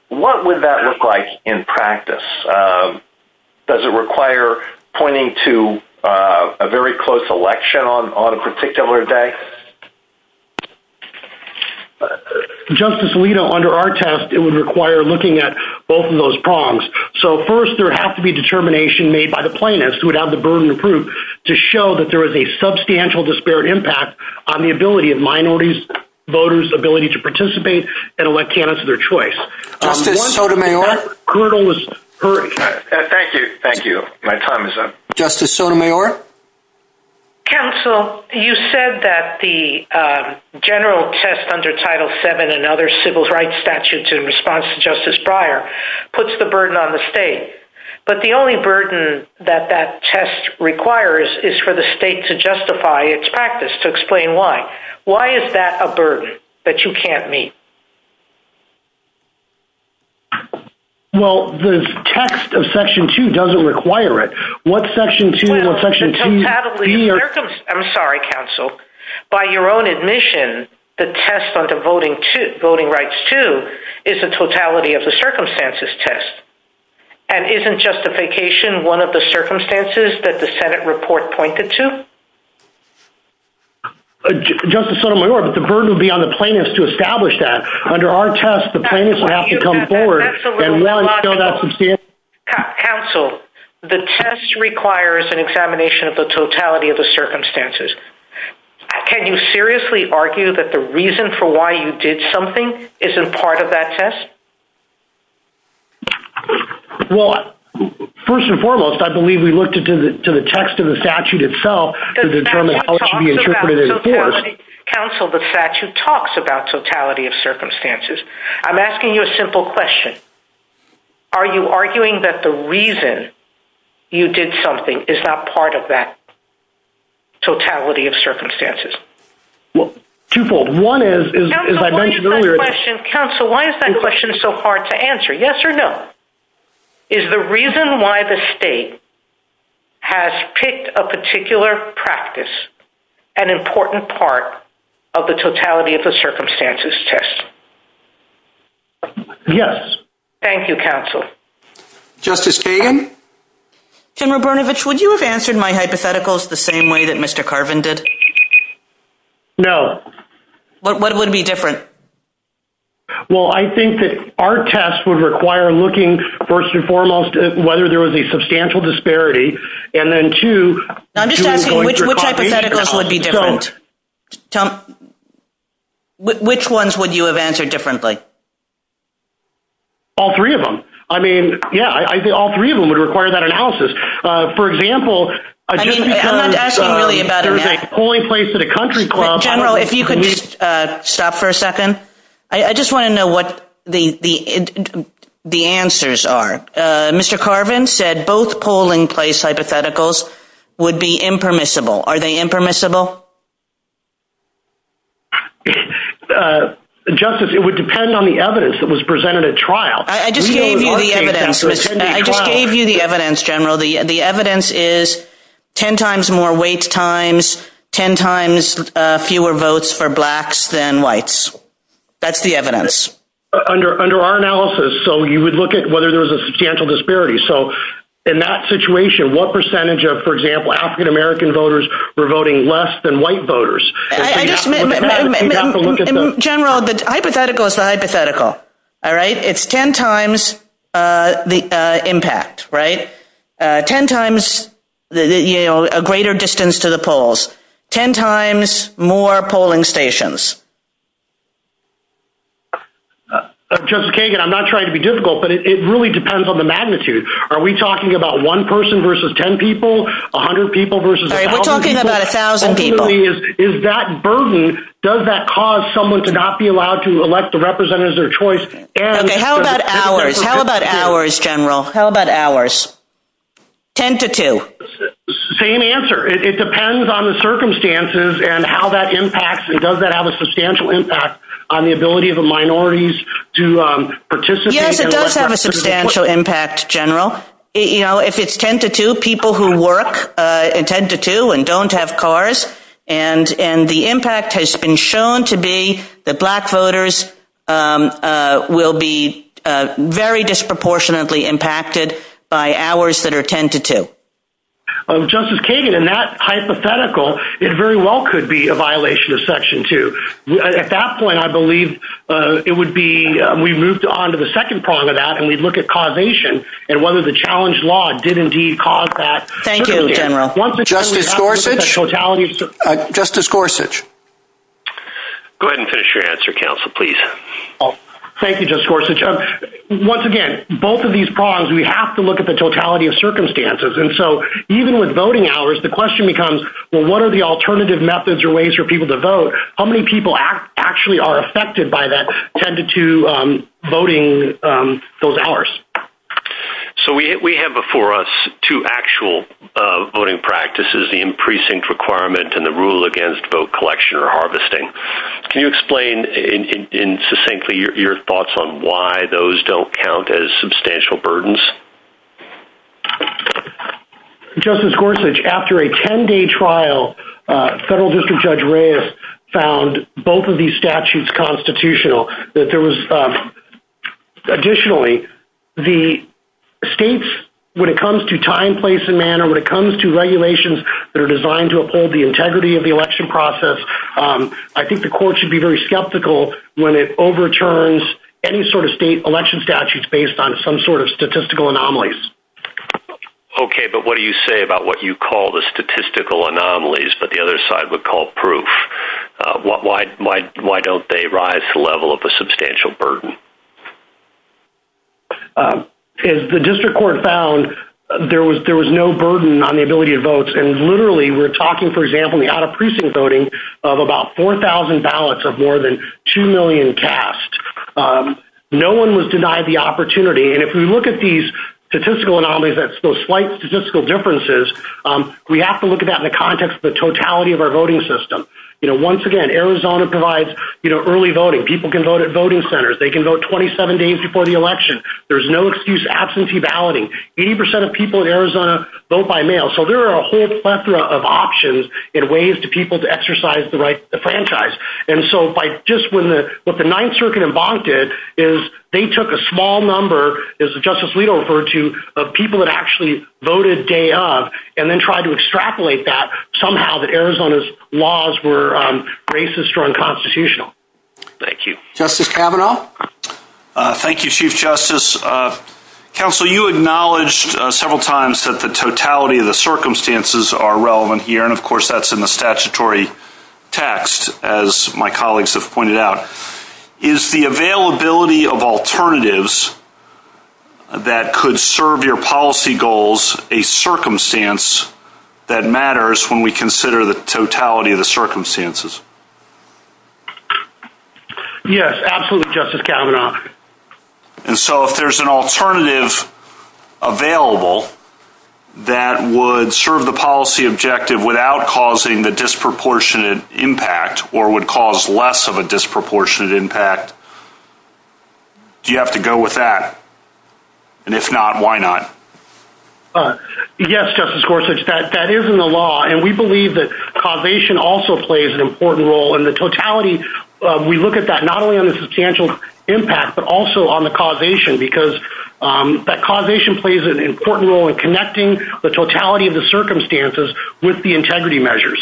What would that look like in practice? Does it require pointing to a very close election on a particular day? Justice Alito, under our test, it would require looking at both of those prongs. So, first, there would have to be determination made by the plaintiffs, who would have the burden to prove, to show that there is a substantial disparate impact on the ability of minorities voters' ability to participate and elect candidates of their choice. Justice Sotomayor? Thank you. Thank you. My time is up. Justice Sotomayor? Counsel, you said that the general test under Title VII and other civil rights statutes in response to Justice Breyer puts the burden on the state. But the only burden that that test requires is for the state to justify its practice, to explain why. Why is that a burden that you can't meet? Well, the text of Section 2 doesn't require it. What Section 2 of Section 2... I'm sorry, Counsel. By your own admission, the test under Voting Rights 2 is a totality of the circumstances test. And isn't justification one of the circumstances that the Senate report pointed to? Justice Sotomayor, but the burden would be on the plaintiffs to establish that. Under our test, the plaintiffs would have to come forward... Counsel, the test requires an examination of the totality of the circumstances. Can you seriously argue that the reason for why you did something isn't part of that test? Well, first and foremost, I believe we looked into the text of the statute itself to determine how it should be interpreted in force. Counsel, the statute talks about totality of circumstances. I'm asking you a simple question. Are you arguing that the reason you did something is not part of that totality of circumstances? Twofold. One is, as I mentioned earlier... Counsel, why is that question so hard to answer? Yes or no? Is the reason why the state has picked a particular practice an important part of the totality of the circumstances test? Yes. Thank you, Counsel. Justice Kagan? Tim Rabernovich, would you have answered my hypotheticals the same way that Mr. Carvin did? No. What would be different? Well, I think that our test would require looking, first and foremost, at whether there was a substantial disparity, and then two... I'm just asking, which hypotheticals would be different? Which ones would you have answered differently? All three of them. I mean, yeah, I think all three of them would require that analysis. For example... I'm asking really about... If you could stop for a second. I just want to know what the answers are. Mr. Carvin said both polling place hypotheticals would be impermissible. Are they impermissible? Justice, it would depend on the evidence that was presented at trial. I just gave you the evidence. I just gave you the evidence, General. The evidence is 10 times more wait times, 10 times fewer votes for blacks than whites. That's the evidence. Under our analysis, so you would look at whether there was a substantial disparity. In that situation, what percentage of, for example, African-American voters were voting less than white voters? In general, the hypothetical is the hypothetical. It's 10 times the impact, right? 10 times a greater distance to the polls. 10 times more polling stations. Justice Kagan, I'm not trying to be difficult, but it really depends on the magnitude. Are we talking about one person versus 10 people? 100 people versus 1,000 people? We're talking about 1,000 people. Is that burden... Does that cause someone to not be allowed to elect the representative of their choice? Okay, how about hours? How about hours, General? How about hours? 10 to 2. Same answer. It depends on the circumstances and how that impacts. Does that have a substantial impact on the ability of the minorities to participate? Yes, it does have a substantial impact, General. If it's 10 to 2, people who work in 10 to 2 and don't have cars. And the impact has been shown to be that black voters will be very disproportionately impacted by hours that are 10 to 2. Justice Kagan, in that hypothetical, it very well could be a violation of Section 2. At that point, I believe it would be... We moved on to the second part of that, and we'd look at causation and whether the challenge law did indeed cause that. Thank you, General. Justice Gorsuch? Justice Gorsuch. Go ahead and finish your answer, Counsel, please. Thank you, Justice Gorsuch. Once again, both of these problems, we have to look at the totality of circumstances. And so even with voting hours, the question becomes, well, what are the alternative methods or ways for people to vote? How many people actually are affected by that 10 to 2 voting, those hours? So we have before us two actual voting practices, the in-precinct requirement and the rule against vote collection or harvesting. Can you explain in succinctly your thoughts on why those don't count as substantial burdens? Justice Gorsuch, after a 10-day trial, Federal District Judge Reyes found both of these statutes constitutional. Additionally, the states, when it comes to time, place, and manner, when it comes to regulations that are designed to uphold the integrity of the election process, I think the court should be very skeptical when it overturns any sort of state election statutes based on some sort of statistical anomalies. Okay, but what do you say about what you call the statistical anomalies, but the other side would call proof? Why don't they rise to the level of a substantial burden? As the district court found, there was no burden on the ability to vote. And literally, we're talking, for example, we had a precinct voting of about 4,000 ballots of more than 2 million cast. No one was denied the opportunity. And if we look at these statistical anomalies, those slight statistical differences, we have to look at that in the context of the totality of our voting system. Once again, Arizona provides early voting. People can vote at voting centers. They can vote 27 days before the election. There's no excuse for absentee balloting. 80% of people in Arizona vote by mail. So there are a whole plethora of options and ways for people to exercise the right to franchise. And so just what the Ninth Circuit did is they took a small number, as the Justice Lito referred to, of people that actually voted day of and then tried to extrapolate that, somehow, that Arizona's laws were racist or unconstitutional. Thank you. Justice Kavanaugh? Thank you, Chief Justice. Counsel, you acknowledged several times that the totality of the circumstances are relevant here. And, of course, that's in the statutory text, as my colleagues have pointed out. Is the availability of alternatives that could serve your policy goals a circumstance that matters when we consider the totality of the circumstances? Yes, absolutely, Justice Kavanaugh. And so if there's an alternative available that would serve the policy objective without causing the disproportionate impact or would cause less of a disproportionate impact, do you have to go with that? And if not, why not? Yes, Justice Gorsuch, that is in the law. And we believe that causation also plays an important role. And the totality, we look at that not only on the substantial impact but also on the causation because that causation plays an important role in connecting the totality of the circumstances with the integrity measures.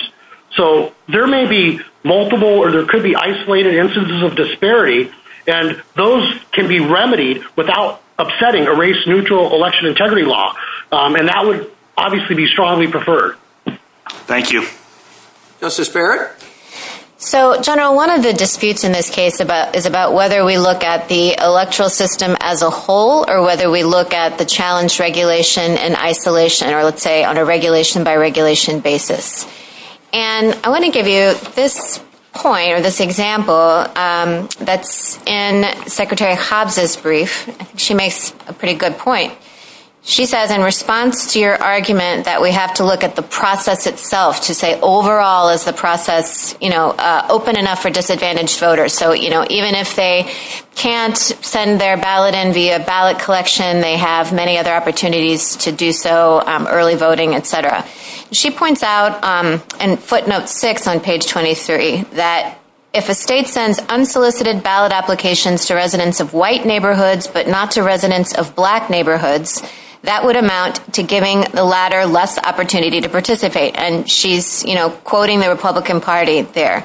So there may be multiple or there could be isolated instances of disparity, and those can be remedied without upsetting a race-neutral election integrity law. And that would obviously be strongly preferred. Thank you. Justice Barrett? So, General, one of the disputes in this case is about whether we look at the electoral system as a whole or whether we look at the challenge regulation and isolation or, let's say, on a regulation-by-regulation basis. And I want to give you this point or this example that's in Secretary Hobbs' brief. She makes a pretty good point. She says, in response to your argument that we have to look at the process itself, to say overall is the process, you know, open enough for disadvantaged voters. So, you know, even if they can't send their ballot in via ballot collection, they have many other opportunities to do so, early voting, et cetera. She points out in footnote 6 on page 23 that if a state sends unsolicited ballot applications to residents of white neighborhoods but not to residents of black neighborhoods, and she's, you know, quoting the Republican Party there,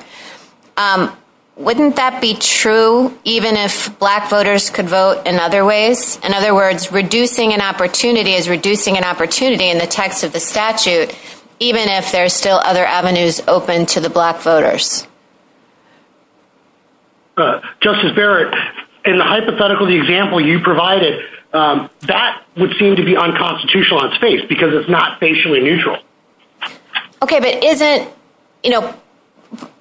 wouldn't that be true even if black voters could vote in other ways? In other words, reducing an opportunity is reducing an opportunity in the text of the statute, even if there are still other avenues open to the black voters. Justice Barrett, in the hypothetical example you provided, that would seem to be unconstitutional on its face because it's not facially neutral. Okay, but isn't, you know,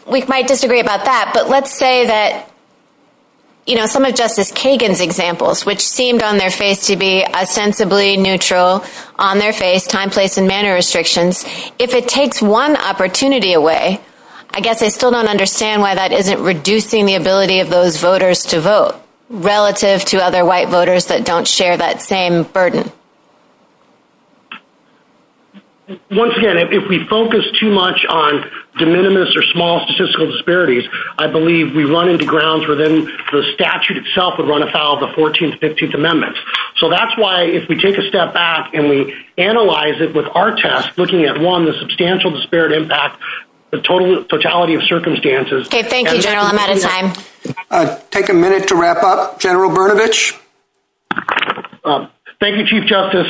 we might disagree about that, but let's say that, you know, some of Justice Kagan's examples, which seemed on their face to be sensibly neutral, on their face, time, place, and manner restrictions, if it takes one opportunity away, I guess they still don't understand why that isn't reducing the ability of those voters to vote relative to other white voters that don't share that same burden. Once again, if we focus too much on de minimis or small statistical disparities, I believe we run into grounds where then the statute itself would run afoul of the 14th, 15th amendments. So that's why if we take a step back and we analyze it with our test, looking at, one, the substantial disparate impact, the total fatality of circumstances. Okay, thank you, General. I'm out of time. Take a minute to wrap up, General Brnovich. Thank you, Chief Justice.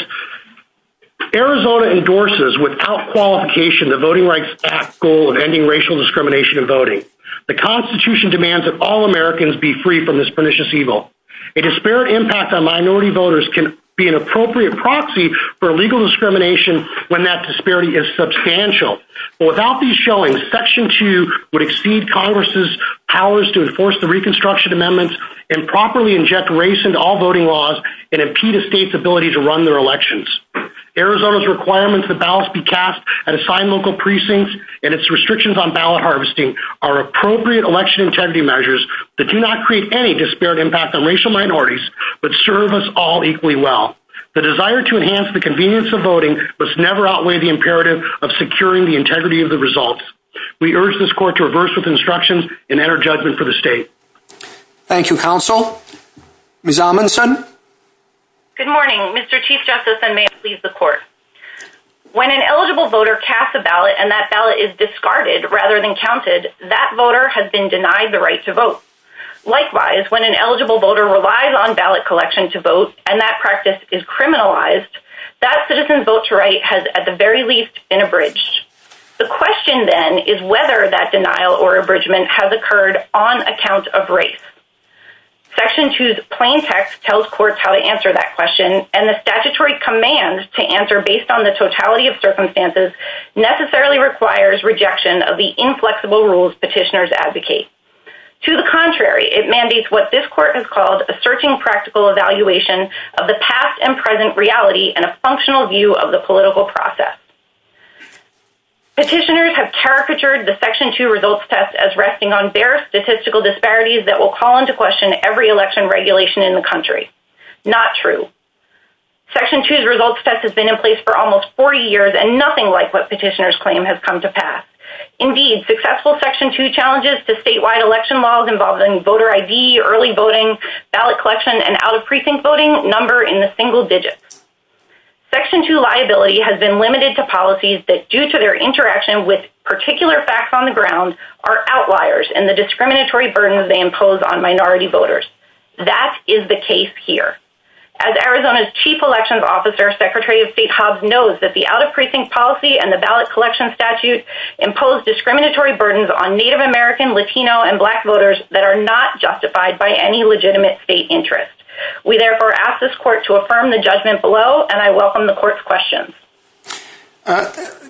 Arizona endorses without qualification the Voting Rights Act's goal of ending racial discrimination in voting. The Constitution demands that all Americans be free from this pernicious evil. A disparate impact on minority voters can be an appropriate proxy for legal discrimination when that disparity is substantial. Without these showings, Section 2 would exceed Congress's powers to enforce the Reconstruction Amendments and properly inject race into all voting laws and impede a state's ability to run their elections. Arizona's requirements that ballots be cast at assigned local precincts and its restrictions on ballot harvesting are appropriate election integrity measures that do not create any disparate impact on racial minorities but serve us all equally well. The desire to enhance the convenience of voting must never outweigh the imperative of securing the integrity of the results. We urge this Court to reverse its instructions and enter judgment for the state. Thank you, Counsel. Ms. Amundson? Good morning, Mr. Chief Justice, and may it please the Court. When an eligible voter casts a ballot and that ballot is discarded rather than counted, that voter has been denied the right to vote. Likewise, when an eligible voter relies on ballot collection to vote and that practice is criminalized, that citizen's vote to write has at the very least been abridged. The question, then, is whether that denial or abridgment has occurred on account of race. Section 2's plain text tells courts how to answer that question, and the statutory command to answer based on the totality of circumstances necessarily requires rejection of the inflexible rules petitioners advocate. To the contrary, it mandates what this Court has called a searching practical evaluation of the past and present reality and a functional view of the political process. Petitioners have caricatured the Section 2 results test as resting on bare statistical disparities that will call into question every election regulation in the country. Not true. Section 2's results test has been in place for almost 40 years and nothing like what petitioners claim has come to pass. Indeed, successful Section 2 challenges to statewide election laws involving voter ID, early voting, ballot collection, and out-of-precinct voting number in the single digits. Section 2 liability has been limited to policies that, due to their interaction with particular facts on the ground, are outliers in the discriminatory burdens they impose on minority voters. That is the case here. As Arizona's Chief Elections Officer, Secretary of State Hobbs, knows that the out-of-precinct policy and the ballot collection statute impose discriminatory burdens on Native American, Latino, and Black voters that are not justified by any legitimate state interest. We therefore ask this Court to affirm the judgment below, and I welcome the Court's questions.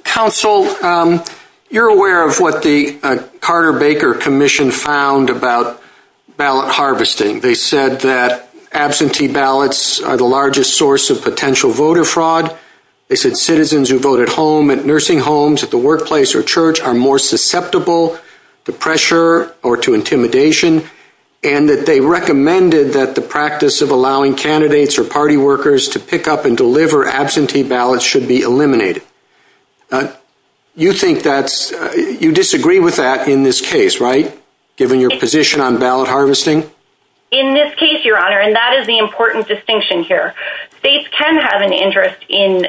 Counsel, you're aware of what the Carter-Baker Commission found about ballot harvesting. They said that absentee ballots are the largest source of potential voter fraud. They said citizens who vote at home, at nursing homes, at the workplace, or church, are more susceptible to pressure or to intimidation, and that they recommended that the practice of allowing candidates or party workers to pick up and deliver absentee ballots should be eliminated. You disagree with that in this case, right, given your position on ballot harvesting? In this case, Your Honor, and that is the important distinction here, states can have an interest in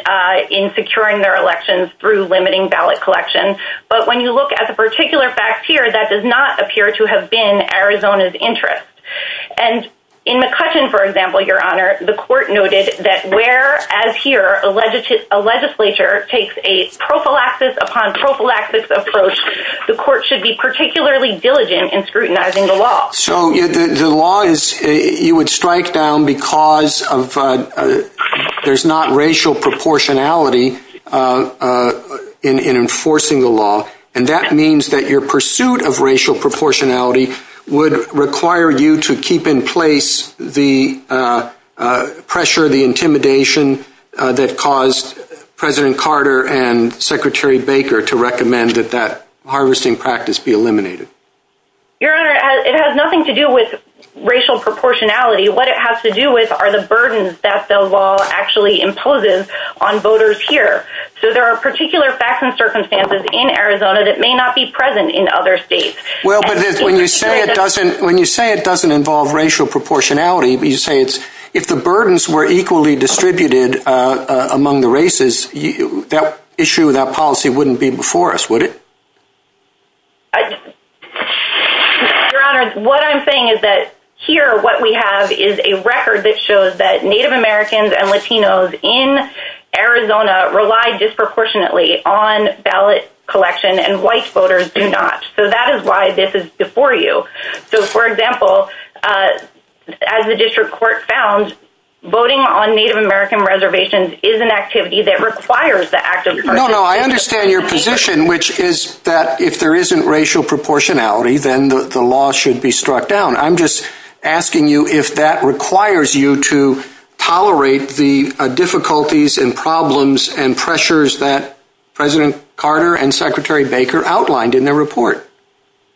securing their elections through limiting ballot collection, but when you look at the particular fact here, that does not appear to have been Arizona's interest. And in McCutcheon, for example, Your Honor, the Court noted that where, as here, a legislature takes a prophylaxis upon prophylaxis approach, the Court should be particularly diligent in scrutinizing the law. So the law is, you would strike down because there's not racial proportionality in enforcing the law, and that means that your pursuit of racial proportionality would require you to keep in place the pressure, the intimidation that caused President Carter and Secretary Baker to recommend that that harvesting practice be eliminated. Your Honor, it has nothing to do with racial proportionality. What it has to do with are the burdens that the law actually imposes on voters here. So there are particular facts and circumstances in Arizona that may not be present in other states. Well, but when you say it doesn't involve racial proportionality, you say if the burdens were equally distributed among the races, that issue, that policy wouldn't be before us, would it? Your Honor, what I'm saying is that here what we have is a record that shows that Native Americans and Latinos in Arizona rely disproportionately on ballot collection and white voters do not. So that is why this is before you. So, for example, as the District Court found, voting on Native American reservations is an activity that requires the active participation. No, no, I understand your position, which is that if there isn't racial proportionality, then the law should be struck down. I'm just asking you if that requires you to tolerate the difficulties and problems and pressures that President Carter and Secretary Baker outlined in their report.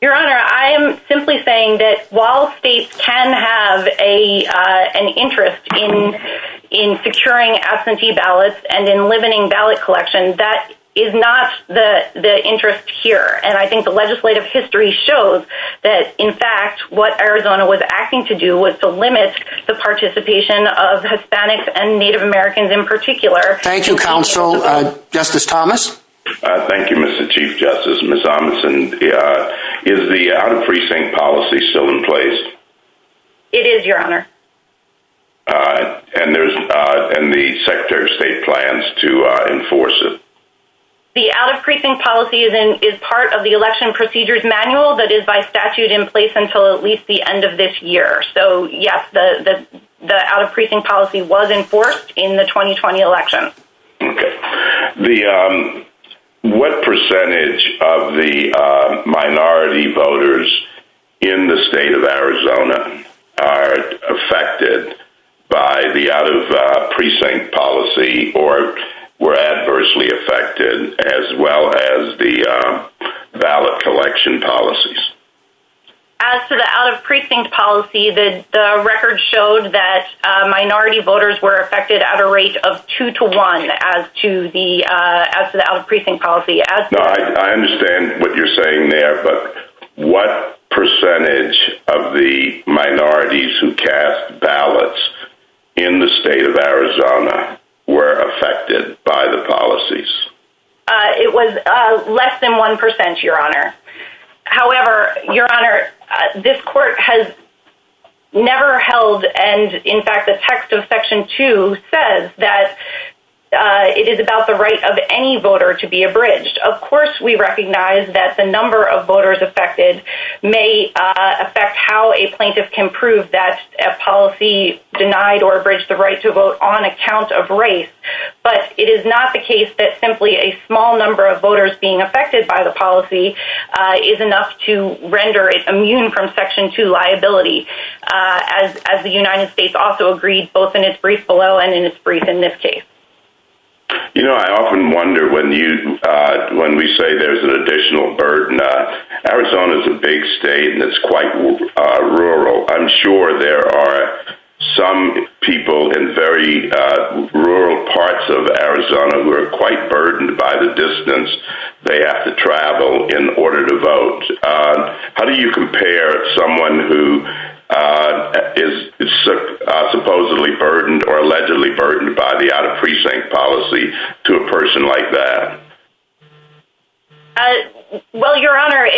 Your Honor, I am simply saying that while states can have an interest in securing absentee ballots and in limiting ballot collection, that is not the interest here. And I think the legislative history shows that, in fact, what Arizona was acting to do was to limit the participation of Hispanics and Native Americans in particular. Thank you, Counsel. Justice Thomas? Thank you, Mr. Chief Justice. Ms. Thompson, is the out-of-precinct policy still in place? It is, Your Honor. And the Secretary of State plans to enforce it? The out-of-precinct policy is part of the Election Procedures Manual that is by statute in place until at least the end of this year. So, yes, the out-of-precinct policy was enforced in the 2020 election. Okay. What percentage of the minority voters in the state of Arizona are affected by the out-of-precinct policy or were adversely affected as well as the ballot collection policies? As for the out-of-precinct policy, the record showed that minority voters were affected at a rate of 2 to 1 as to the out-of-precinct policy. I understand what you're saying there, but what percentage of the minorities who cast ballots in the state of Arizona were affected by the policies? It was less than 1%, Your Honor. However, Your Honor, this court has never held, and in fact the text of Section 2 says that it is about the right of any voter to be abridged. Of course we recognize that the number of voters affected may affect how a plaintiff can prove that a policy denied or abridged the right to vote on account of race, but it is not the case that simply a small number of voters being affected by the policy is enough to render it immune from Section 2 liability, as the United States also agreed both in its brief below and in its brief in this case. You know, I often wonder when we say there's an additional burden, Arizona's a big state and it's quite rural. I'm sure there are some people in very rural parts of Arizona who are quite burdened by the distance they have to travel in order to vote. How do you compare someone who is supposedly burdened or allegedly burdened by the out-of-precinct policy to a person like that? Well, Your Honor,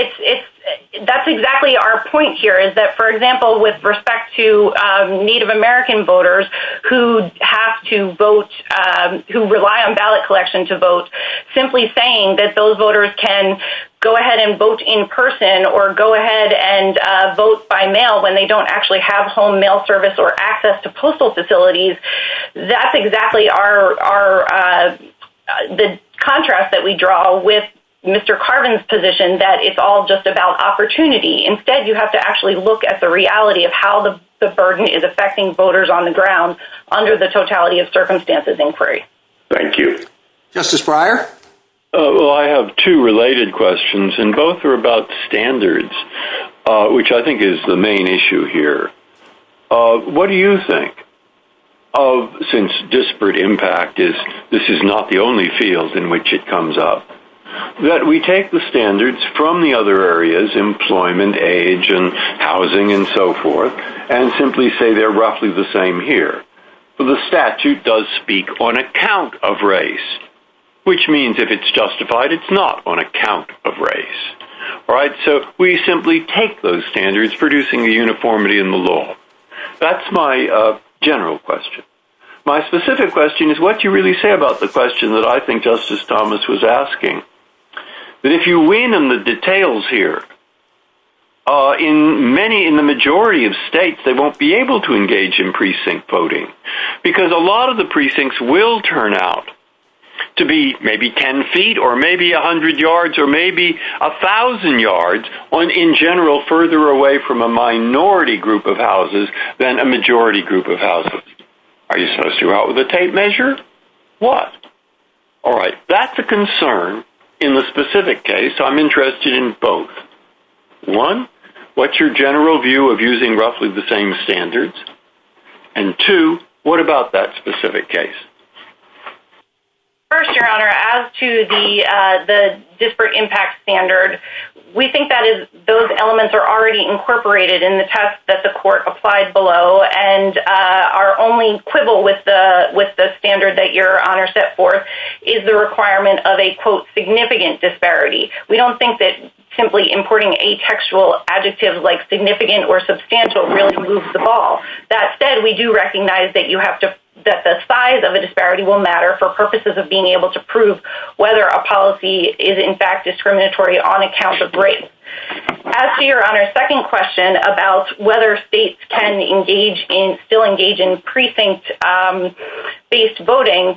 that's exactly our point here is that, for example, with respect to Native American voters who have to vote, who rely on ballot collection to vote, simply saying that those voters can go ahead and vote in person or go ahead and vote by mail when they don't actually have home mail service or access to postal facilities, that's exactly the contrast that we draw with Mr. Carbon's position that it's all just about opportunity. Instead, you have to actually look at the reality of how the burden is affecting voters on the ground under the totality of circumstances inquiry. Thank you. Justice Breyer? Well, I have two related questions and both are about standards, which I think is the main issue here. What do you think of, since disparate impact is this is not the only field in which it comes up, that we take the standards from the other areas, employment, age, and housing, and so forth, and simply say they're roughly the same here? The statute does speak on account of race, which means if it's justified, it's not on account of race. All right? So we simply take those standards, producing a uniformity in the law. That's my general question. My specific question is what do you really say about the question that I think Justice Thomas was asking? If you wean in the details here, in the majority of states, they won't be able to engage in precinct voting because a lot of the precincts will turn out to be maybe 10 feet or maybe 100 yards or maybe 1,000 yards or, in general, further away from a minority group of houses than a majority group of houses. Are you supposed to go out with a tape measure? What? All right. That's a concern in the specific case. I'm interested in both. One, what's your general view of using roughly the same standards? And two, what about that specific case? First, Your Honor, as to the disparate impact standard, we think that those elements are already incorporated in the test that the court applied below, and our only quibble with the standard that Your Honor set forth is the requirement of a, quote, significant disparity. We don't think that simply importing a textual adjective like significant or substantial really moves the ball. That said, we do recognize that the size of a disparity will matter for purposes of being able to prove whether a policy is, in fact, discriminatory on account of race. As to Your Honor's second question about whether states can still engage in precinct-based voting,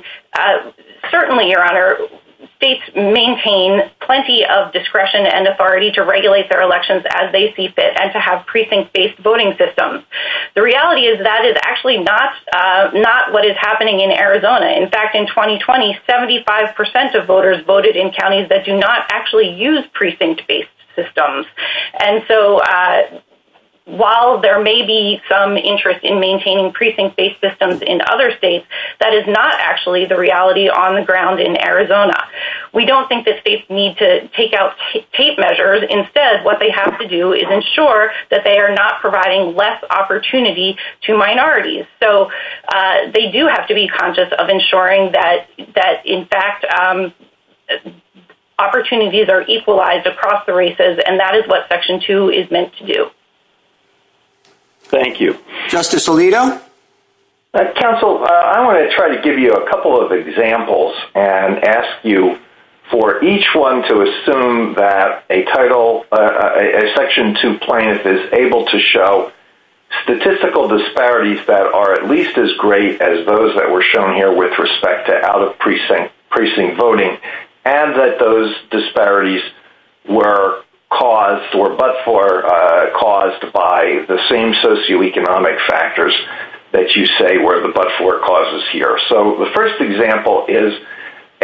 certainly, Your Honor, states maintain plenty of discretion and authority to regulate their elections as they see fit and to have precinct-based voting systems. The reality is that is actually not what is happening in Arizona. In fact, in 2020, 75% of voters voted in counties that do not actually use precinct-based systems. And so while there may be some interest in maintaining precinct-based systems in other states, that is not actually the reality on the ground in Arizona. We don't think that states need to take out tape measures. Instead, what they have to do is ensure that they are not providing less opportunity to minorities. So they do have to be conscious of ensuring that, in fact, opportunities are equalized across the races, and that is what Section 2 is meant to do. Thank you. Justice Alito? Counsel, I want to try to give you a couple of examples and ask you for each one to assume that a title, a Section 2 plaintiff is able to show statistical disparities that are at least as great as those that were shown here with respect to out-of-precinct voting and that those disparities were caused or but-for caused by the same socioeconomic factors that you say were the but-for causes here. So the first example is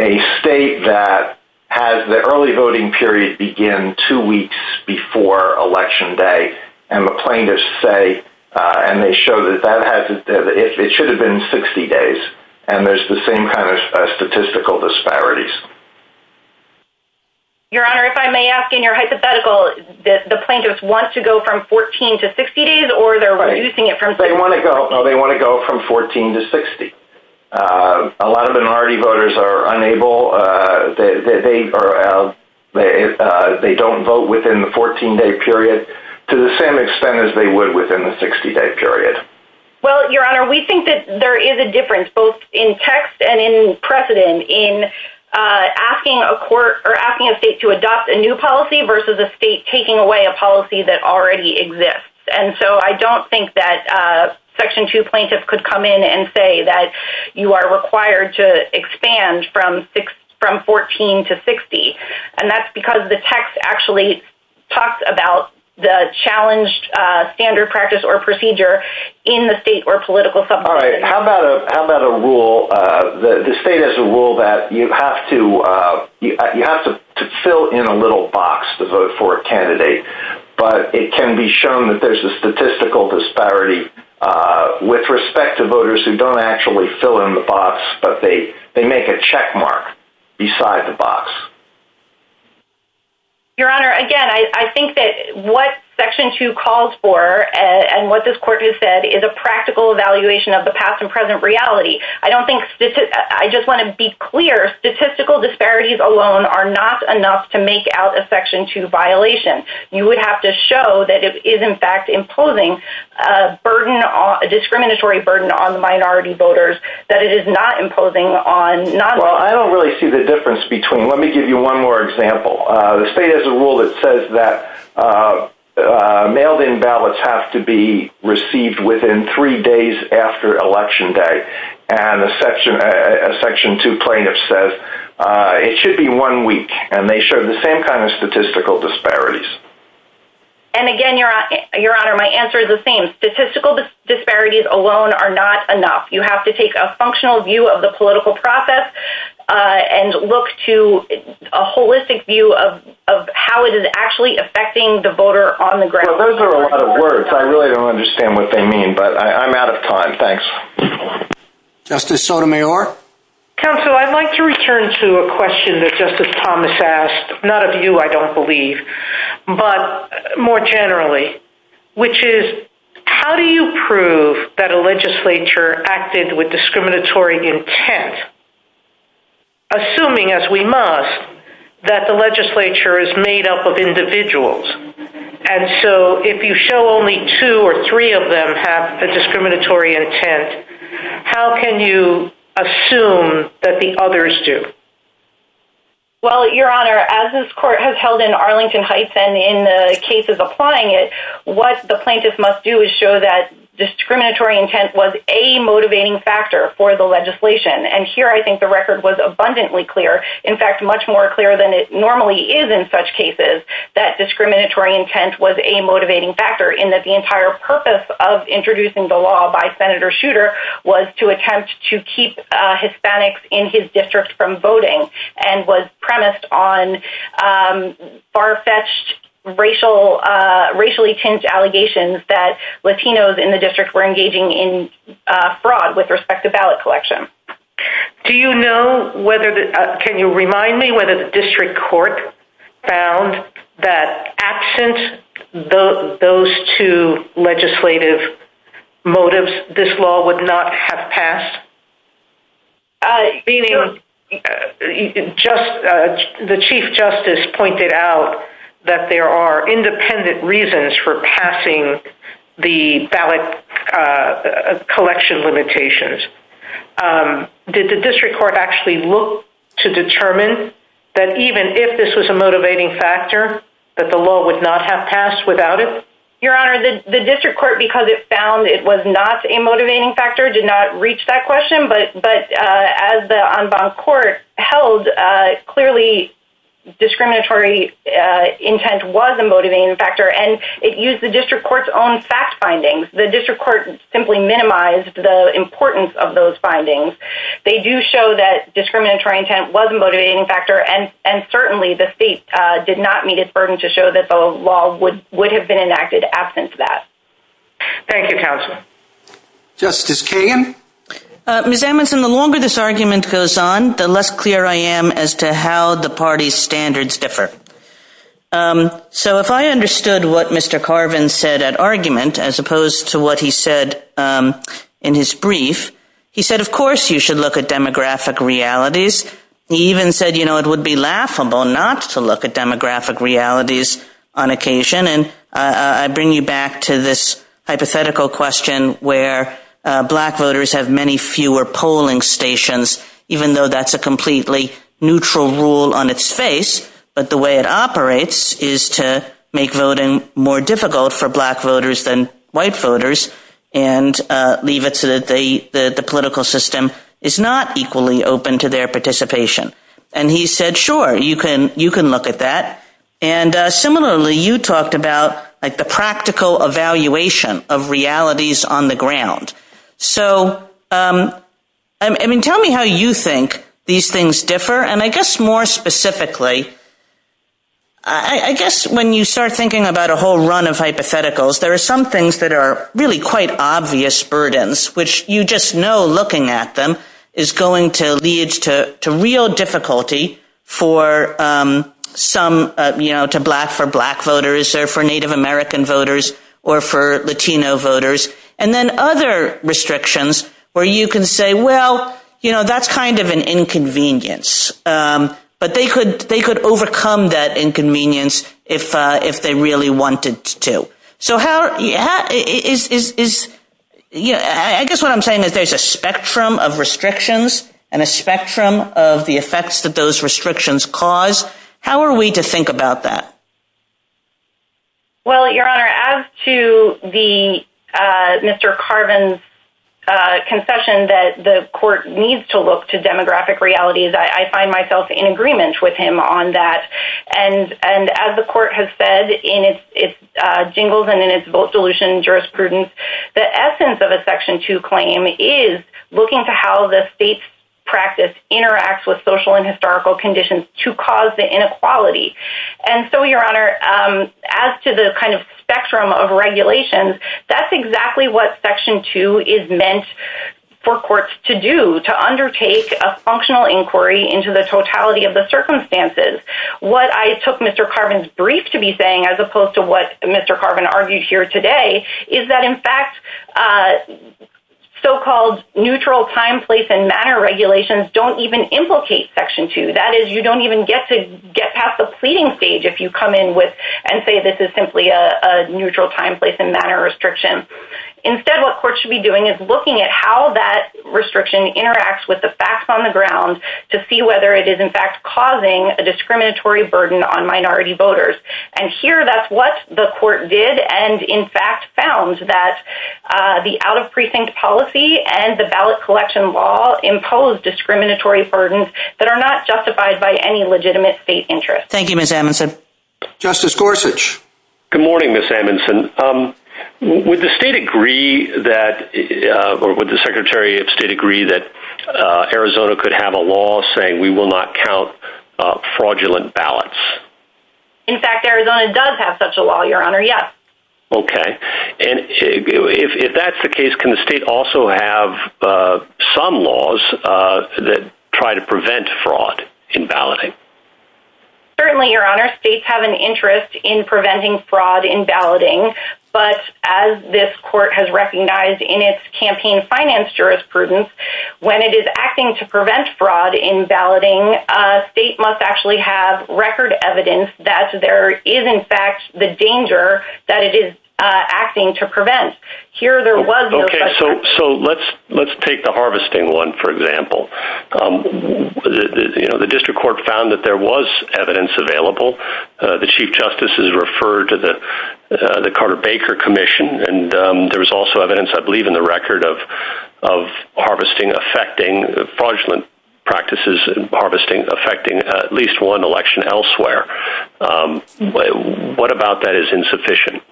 a state that has the early voting period begin two weeks before Election Day, and the plaintiffs say, and they show that it should have been 60 days, and there's the same kind of statistical disparities. Your Honor, if I may ask in your hypothetical, the plaintiffs want to go from 14 to 60 days, No, they want to go from 14 to 60. A lot of minority voters are unable. They don't vote within the 14-day period to the same extent as they would within the 60-day period. Well, Your Honor, we think that there is a difference both in text and in precedent in asking a state to adopt a new policy versus a state taking away a policy that already exists. And so I don't think that Section 2 plaintiffs could come in and say that you are required to expand from 14 to 60, and that's because the text actually talks about the challenged standard practice or procedure in the state or political subcommittee. All right. How about a rule, the state has a rule that you have to fill in a little box to vote for a candidate, but it can be shown that there's a statistical disparity with respect to voters who don't actually fill in the box, but they make a checkmark beside the box. Your Honor, again, I think that what Section 2 calls for and what this Court has said is a practical evaluation of the past and present reality. I just want to be clear. Statistical disparities alone are not enough to make out a Section 2 violation. You would have to show that it is, in fact, imposing a discriminatory burden on minority voters, that it is not imposing on nonvoters. Well, I don't really see the difference between them. Let me give you one more example. The state has a rule that says that mail-in ballots have to be received within three days after election day, and a Section 2 plaintiff says it should be one week, and they show the same kind of statistical disparities. And, again, Your Honor, my answer is the same. Statistical disparities alone are not enough. You have to take a functional view of the political process and look to a holistic view of how it is actually affecting the voter on the ground. Those are a lot of words. I really don't understand what they mean, but I'm out of time. Thanks. Justice Sotomayor? Counsel, I'd like to return to a question that Justice Thomas asked. None of you, I don't believe, but more generally, which is, how do you prove that a legislature acted with discriminatory intent, assuming, as we must, that the legislature is made up of individuals? And so if you show only two or three of them have a discriminatory intent, how can you assume that the others do? Well, Your Honor, as this court has held in Arlington Heights and in the cases applying it, what the plaintiffs must do is show that discriminatory intent was a motivating factor for the legislation. And here I think the record was abundantly clear, in fact, much more clear than it normally is in such cases, that discriminatory intent was a motivating factor, in that the entire purpose of introducing the law by Senator Schueter was to attempt to keep Hispanics in his district from voting and was premised on far-fetched, racially-tinged allegations that Latinos in the district were engaging in fraud with respect to ballot collection. Do you know whether, can you remind me, whether the district court found that absent those two legislative motives, this law would not have passed? The Chief Justice pointed out that there are independent reasons for passing the ballot collection limitations. Did the district court actually look to determine that even if this was a motivating factor, that the law would not have passed without it? Your Honor, the district court, because it found it was not a motivating factor, did not reach that question, but as the on-bounds court held, clearly discriminatory intent was a motivating factor and it used the district court's own fact findings. The district court simply minimized the importance of those findings. They do show that discriminatory intent was a motivating factor and certainly the state did not meet its burden to show that the law would have been enacted absent that. Thank you, Counsel. Justice Kagan? Ms. Amundson, the longer this argument goes on, the less clear I am as to how the party's standards differ. So if I understood what Mr. Carvin said at argument, as opposed to what he said in his brief, he said of course you should look at demographic realities. He even said, you know, it would be laughable not to look at demographic realities on occasion. And I bring you back to this hypothetical question where black voters have many fewer polling stations, even though that's a completely neutral rule on its face, but the way it operates is to make voting more difficult for black voters than white voters and leave it so that the political system is not equally open to their participation. And he said, sure, you can look at that. And similarly, you talked about, like, the practical evaluation of realities on the ground. So, I mean, tell me how you think these things differ. And I guess more specifically, I guess when you start thinking about a whole run of hypotheticals, there are some things that are really quite obvious burdens, which you just know looking at them is going to lead to real difficulty for some, you know, for black voters or for Native American voters or for Latino voters. And then other restrictions where you can say, well, you know, that's kind of an inconvenience. But they could overcome that inconvenience if they really wanted to. So how is... I guess what I'm saying is there's a spectrum of restrictions and a spectrum of the effects that those restrictions cause. How are we to think about that? Well, Your Honor, as to Mr. Carvin's concession that the court needs to look to demographic realities, I find myself in agreement with him on that. And as the court has said in its jingles and in its vote dilution jurisprudence, the essence of a Section 2 claim is looking to how the state's practice interacts with social and historical conditions to cause the inequality. And so, Your Honor, as to the kind of spectrum of regulations, that's exactly what Section 2 is meant for courts to do, to undertake a functional inquiry into the totality of the circumstances. What I took Mr. Carvin's brief to be saying, as opposed to what Mr. Carvin argued here today, is that, in fact, so-called neutral time, place, and manner regulations don't even implicate Section 2. That is, you don't even get to get past the pleading stage if you come in and say this is simply a neutral time, place, and manner restriction. Instead, what courts should be doing is looking at how that restriction interacts with the facts on the ground to see whether it is, in fact, causing a discriminatory burden on minority voters. And here, that's what the court did and, in fact, found that the out-of-precinct policy and the ballot collection law impose discriminatory burdens that are not justified by any legitimate state interest. Thank you, Ms. Amundson. Justice Gorsuch. Good morning, Ms. Amundson. Would the state agree that, or would the Secretary of State agree that Arizona could have a law saying we will not count fraudulent ballots? In fact, Arizona does have such a law, Your Honor, yes. Okay. If that's the case, can the state also have some laws that try to prevent fraud in balloting? Certainly, Your Honor. States have an interest in preventing fraud in balloting, but as this court has recognized in its campaign finance jurisprudence, when it is acting to prevent fraud in balloting, a state must actually have record evidence that there is, in fact, the danger that it is acting to prevent. Here there was no such thing. Okay, so let's take the harvesting one, for example. The district court found that there was evidence available. The Chief Justice has referred to the Carter-Baker Commission, and there was also evidence, I believe, in the record of harvesting affecting fraudulent practices, harvesting affecting at least one election elsewhere. What about that is insufficient?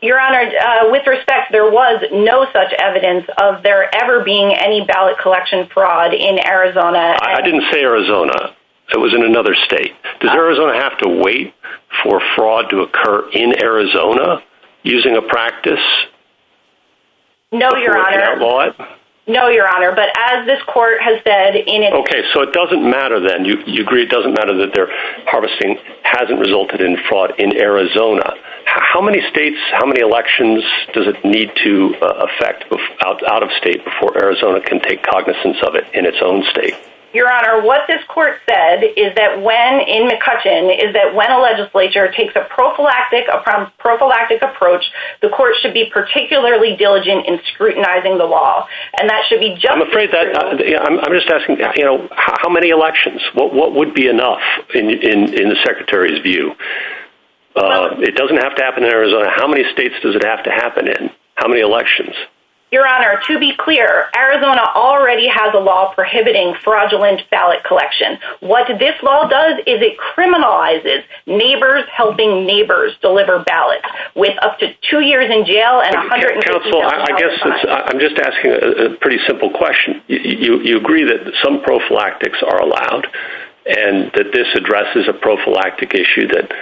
Your Honor, with respect, there was no such evidence of there ever being any ballot collection fraud in Arizona. I didn't say Arizona. It was in another state. Does Arizona have to wait for fraud to occur in Arizona using a practice? No, Your Honor. No, Your Honor, but as this court has said in its... Okay, so it doesn't matter then. You agree it doesn't matter that their harvesting hasn't resulted in fraud in Arizona. How many states, how many elections does it need to affect out of state before Arizona can take cognizance of it in its own state? Your Honor, what this court said is that when, in McCutcheon, is that when a legislature takes a prophylactic approach, the court should be particularly diligent in scrutinizing the law, and that should be... I'm afraid that, I'm just asking, you know, how many elections? What would be enough in the Secretary's view? It doesn't have to happen in Arizona. How many states does it have to happen in? How many elections? Your Honor, to be clear, Arizona already has a law prohibiting fraudulent ballot collection. What this law does is it criminalizes neighbors helping neighbors deliver ballots. With up to two years in jail and... I guess I'm just asking a pretty simple question. You agree that some prophylactics are allowed, and that this addresses a prophylactic issue that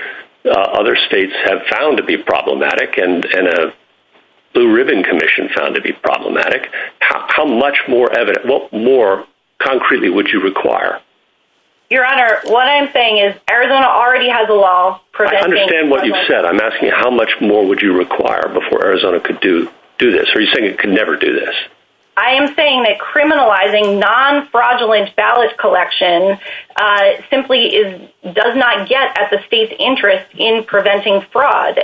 other states have found to be problematic, and a Blue Ribbon Commission found to be problematic. How much more concretely would you require? Your Honor, what I'm saying is Arizona already has a law preventing... I understand what you've said. I'm asking how much more would you require before Arizona could do this. Are you saying it could never do this? I am saying that criminalizing non-fraudulent ballot collection simply does not get at the state's interest in preventing fraud.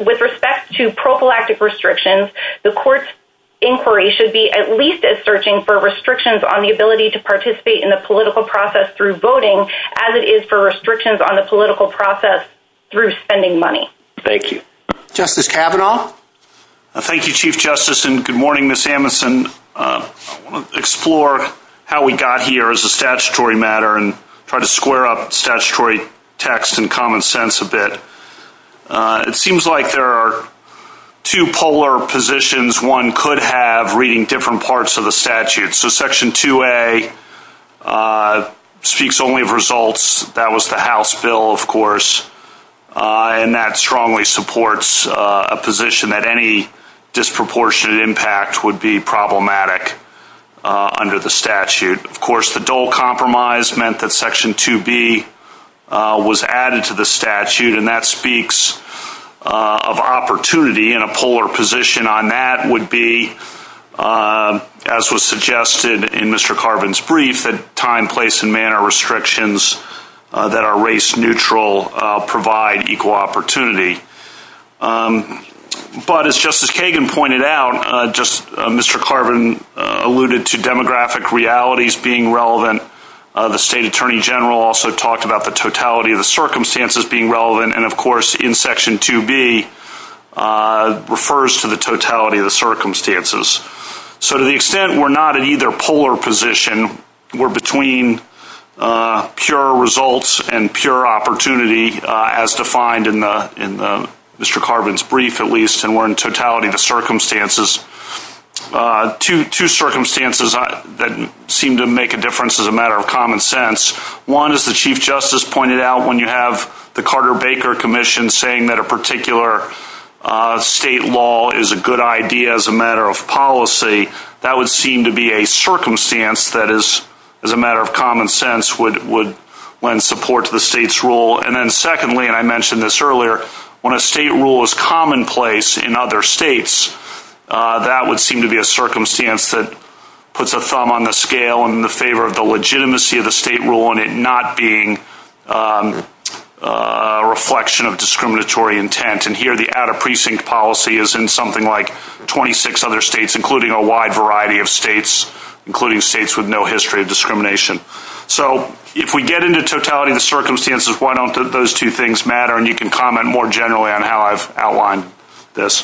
With respect to prophylactic restrictions, the court's inquiry should be at least as searching for restrictions on the ability to participate in the political process through voting as it is for restrictions on the political process through spending money. Thank you. Justice Kavanaugh? Thank you, Chief Justice, and good morning, Ms. Amundson. I want to explore how we got here as a statutory matter and try to square up statutory text and common sense a bit. It seems like there are two polar positions one could have reading different parts of the statute. Section 2A speaks only of results. That was the House bill, of course, and that strongly supports a position that any disproportionate impact would be problematic under the statute. Of course, the dole compromise meant that Section 2B was added to the statute, and that speaks of opportunity, and a polar position on that would be, as was suggested in Mr. Carvin's brief, that time, place, and manner restrictions that are race-neutral provide equal opportunity. But as Justice Kagan pointed out, just as Mr. Carvin alluded to demographic realities being relevant, the State Attorney General also talked about the totality of the circumstances being relevant, and, of course, in Section 2B refers to the totality of the circumstances. So to the extent we're not in either polar position, we're between pure results and pure opportunity, as defined in Mr. Carvin's brief, at least, and we're in totality of the circumstances, two circumstances that seem to make a difference as a matter of common sense. One, as the Chief Justice pointed out, when you have the Carter-Baker Commission saying that a particular state law is a good idea as a matter of policy, that would seem to be a circumstance that is, as a matter of common sense, would lend support to the State's rule. And then secondly, and I mentioned this earlier, when a state rule is commonplace in other states, that would seem to be a circumstance that puts a thumb on the scale in favor of the legitimacy of the state rule and it not being a reflection of discriminatory intent. And here the out-of-precinct policy is in something like 26 other states, including a wide variety of states, including states with no history of discrimination. So if we get into totality of the circumstances, why don't those two things matter? And you can comment more generally on how I've outlined this.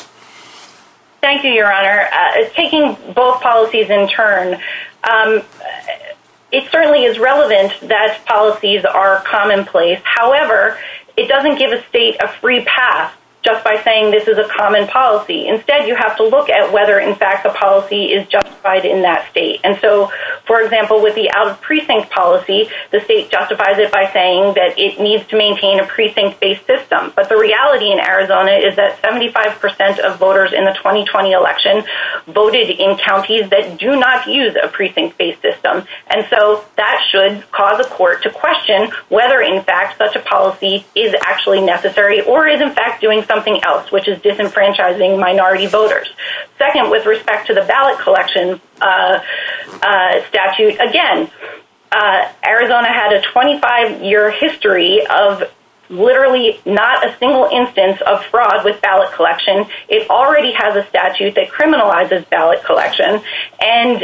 Thank you, Your Honor. Taking both policies in turn, it certainly is relevant that policies are commonplace. However, it doesn't give a state a free pass just by saying this is a common policy. Instead, you have to look at whether, in fact, the policy is justified in that state. And so, for example, with the out-of-precinct policy, the state justifies it by saying that it needs to maintain a precinct-based system. But the reality in Arizona is that 75 percent of voters in the 2020 election voted in counties that do not use a precinct-based system. And so that should cause a court to question whether, in fact, such a policy is actually necessary or is, in fact, doing something else, which is disenfranchising minority voters. Second, with respect to the ballot collection statute, again, Arizona had a 25-year history of literally not a single instance of fraud with ballot collection. It already has a statute that criminalizes ballot collection. And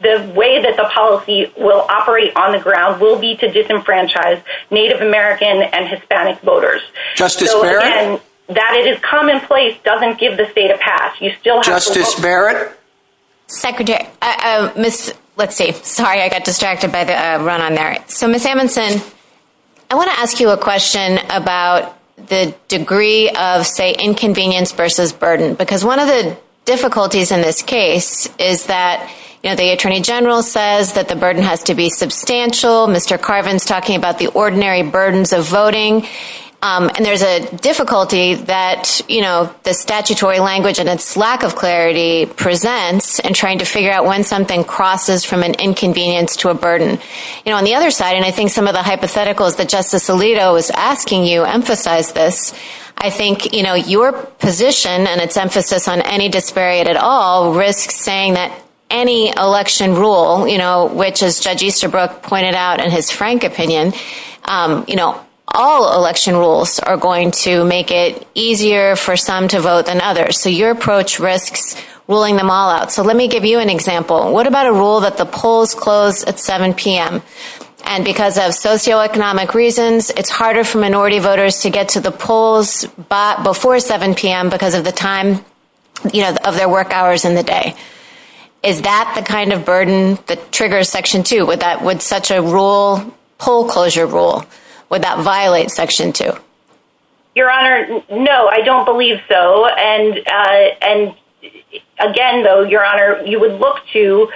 the way that the policy will operate on the ground will be to disenfranchise Native American and Hispanic voters. Justice Barrett? That it is commonplace doesn't give the state a pass. Justice Barrett? Secretary, let's see. Sorry, I got distracted by the run on Merit. So, Ms. Amundson, I want to ask you a question about the degree of, say, inconvenience versus burden, because one of the difficulties in this case is that the Attorney General says that the burden has to be substantial. Mr. Carvin is talking about the ordinary burdens of voting. And there's a difficulty that the statutory language and its lack of clarity presents in trying to figure out when something crosses from an inconvenience to a burden. On the other side, and I think some of the hypotheticals that Justice Alito is asking you emphasize this, I think your position and its emphasis on any disparity at all risks saying that any election rule, which, as Judge Easterbrook pointed out in his frank opinion, you know, all election rules are going to make it easier for some to vote than others. So your approach risks ruling them all out. So let me give you an example. What about a rule that the polls close at 7 p.m.? And because of socioeconomic reasons, it's harder for minority voters to get to the polls before 7 p.m. because of the time of their work hours in the day. Is that the kind of burden that triggers Section 2? Would such a rule, poll closure rule, would that violate Section 2? Your Honor, no, I don't believe so. And again, though, Your Honor, you would look to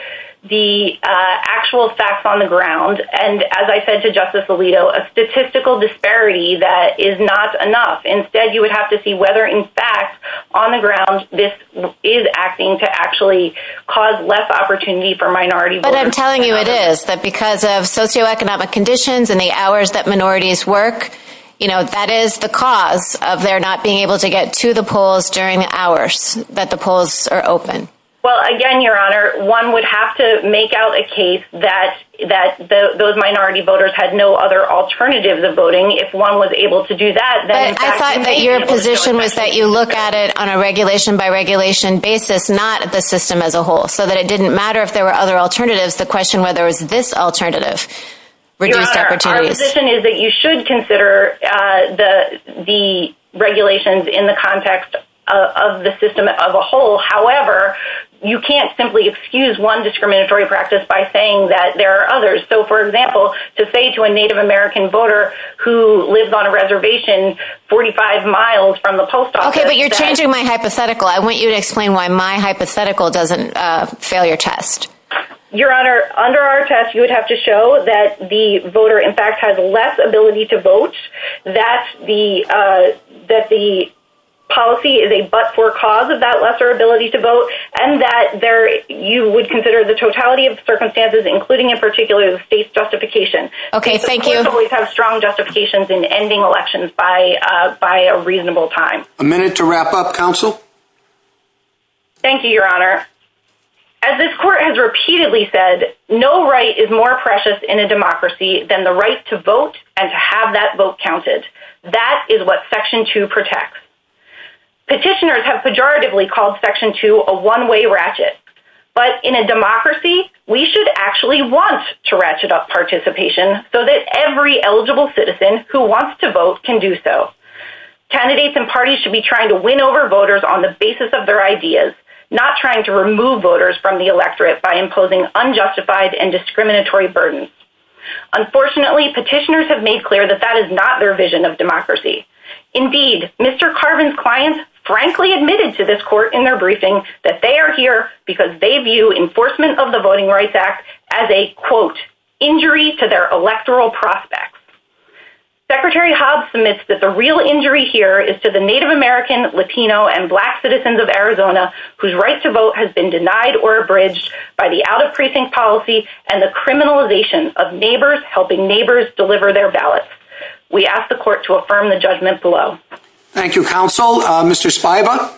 the actual facts on the ground. And as I said to Justice Alito, a statistical disparity, that is not enough. Instead, you would have to see whether, in fact, on the ground, this is acting to actually cause less opportunity for minority voters. But I'm telling you it is. But because of socioeconomic conditions and the hours that minorities work, you know, that is the cause of their not being able to get to the polls during the hours that the polls are open. Well, again, Your Honor, one would have to make out a case that those minority voters had no other alternatives of voting. If one was able to do that, then, in fact... But I thought that your position was that you look at it on a regulation-by-regulation basis, not the system as a whole, so that it didn't matter if there were other alternatives. The question whether it was this alternative reduced opportunities. Your Honor, our position is that you should consider the regulations in the context of the system as a whole. However, you can't simply excuse one discriminatory practice by saying that there are others. So, for example, to say to a Native American voter who lives on a reservation 45 miles from the post office... Okay, but you're changing my hypothetical. I want you to explain why my hypothetical doesn't fail your test. Your Honor, under our test, you would have to show that the voter, in fact, has less ability to vote, that the policy is a but-for cause of that lesser ability to vote, and that you would consider the totality of the circumstances, including, in particular, the state's justification. Okay, thank you. The courts always have strong justifications in ending elections by a reasonable time. A minute to wrap up, counsel. Thank you, Your Honor. As this court has repeatedly said, no right is more precious in a democracy than the right to vote and to have that vote counted. That is what Section 2 protects. Petitioners have pejoratively called Section 2 a one-way ratchet, but in a democracy, we should actually want to ratchet up participation so that every eligible citizen who wants to vote can do so. Candidates and parties should be trying to win over voters on the basis of their ideas, not trying to remove voters from the electorate by imposing unjustified and discriminatory burdens. Unfortunately, petitioners have made clear that that is not their vision of democracy. Indeed, Mr. Carvin's clients frankly admitted to this court in their briefing that they are here because they view enforcement of the Voting Rights Act as a, quote, injury to their electoral prospects. Secretary Hobbs admits that the real injury here is to the Native American, Latino, and Black citizens of Arizona whose right to vote has been denied or abridged by the out-of-precinct policy and the criminalization of neighbors helping neighbors deliver their ballots. We ask the court to affirm the judgment below. Thank you, counsel. Mr. Spiva?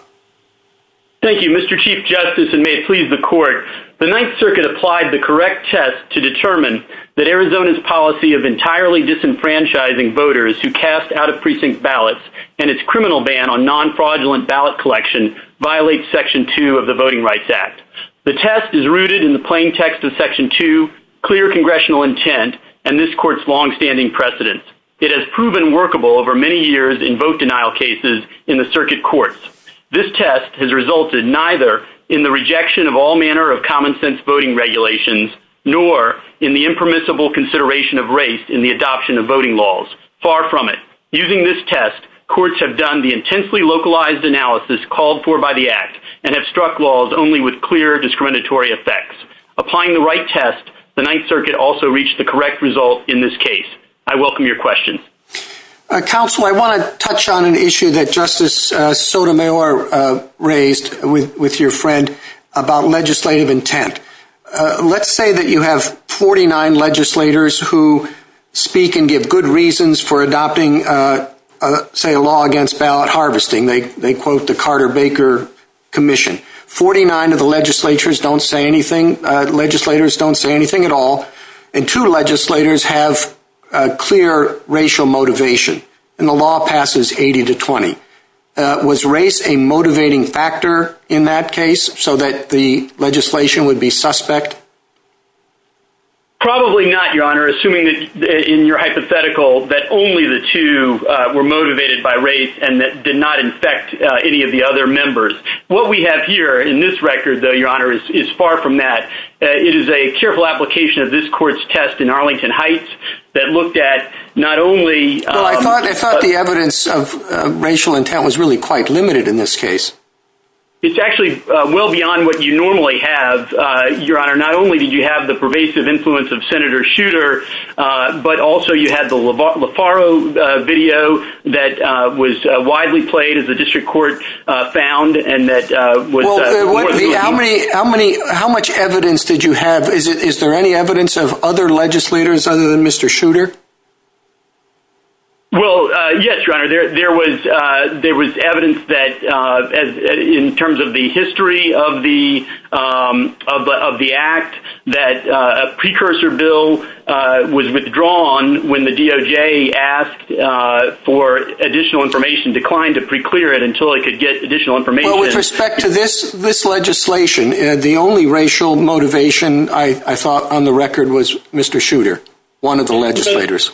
Thank you, Mr. Chief Justice, and may it please the court. The Ninth Circuit applied the correct test to determine that Arizona's policy of entirely disenfranchising voters who cast out-of-precinct ballots and its criminal ban on non-fraudulent ballot collection violates Section 2 of the Voting Rights Act. The test is rooted in the plain text of Section 2, clear congressional intent, and this test, it has proven workable over many years in vote denial cases in the circuit courts. This test has resulted neither in the rejection of all manner of common-sense voting regulations nor in the impermissible consideration of race in the adoption of voting laws. Far from it. Using this test, courts have done the intensely localized analysis called for by the Act and have struck laws only with clear discriminatory effects. Applying the right test, the Ninth Circuit also reached the correct result in this case. I welcome your question. Counsel, I want to touch on an issue that Justice Sotomayor raised with your friend about legislative intent. Let's say that you have 49 legislators who speak and give good reasons for adopting, say, a law against ballot harvesting. They quote the Carter-Baker Commission. Forty-nine of the legislators don't say anything at all. And two legislators have clear racial motivation. And the law passes 80 to 20. Was race a motivating factor in that case so that the legislation would be suspect? Probably not, Your Honor, assuming that in your hypothetical that only the two were motivated by race and that did not infect any of the other members. What we have here in this record, though, Your Honor, is far from that. It is a careful application of this court's test in Arlington Heights that looked at not only Well, I thought the evidence of racial intent was really quite limited in this case. It's actually well beyond what you normally have, Your Honor. Not only did you have the pervasive influence of Senator Shooter, but also you had the LeFaro video that was widely played as the district court found and that was How much evidence did you have? Is there any evidence of other legislators other than Mr. Shooter? Well, yes, Your Honor, there was evidence that in terms of the history of the act, that a precursor bill was withdrawn when the DOJ asked for additional information, declined to preclear it until it could get additional information. Well, with respect to this legislation, the only racial motivation, I thought on the record, was Mr. Shooter, one of the legislators.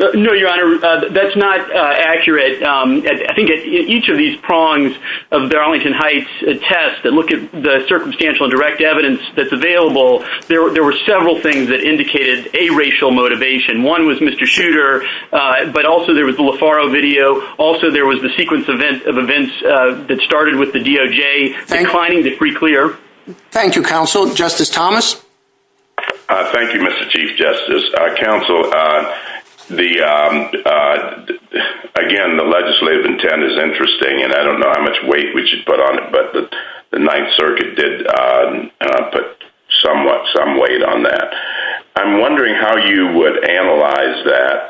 No, Your Honor, that's not accurate. I think each of these prongs of the Arlington Heights test that look at the circumstantial and direct evidence that's available, there were several things that indicated a racial motivation. One was Mr. Shooter, but also there was the LeFaro video. Also, there was the sequence of events that started with the DOJ declining to preclear. Thank you, counsel. Justice Thomas? Thank you, Mr. Chief Justice, counsel. Again, the legislative intent is interesting, and I don't know how much weight we should put on it, but the Ninth Circuit did put somewhat some weight on that. I'm wondering how you would analyze that.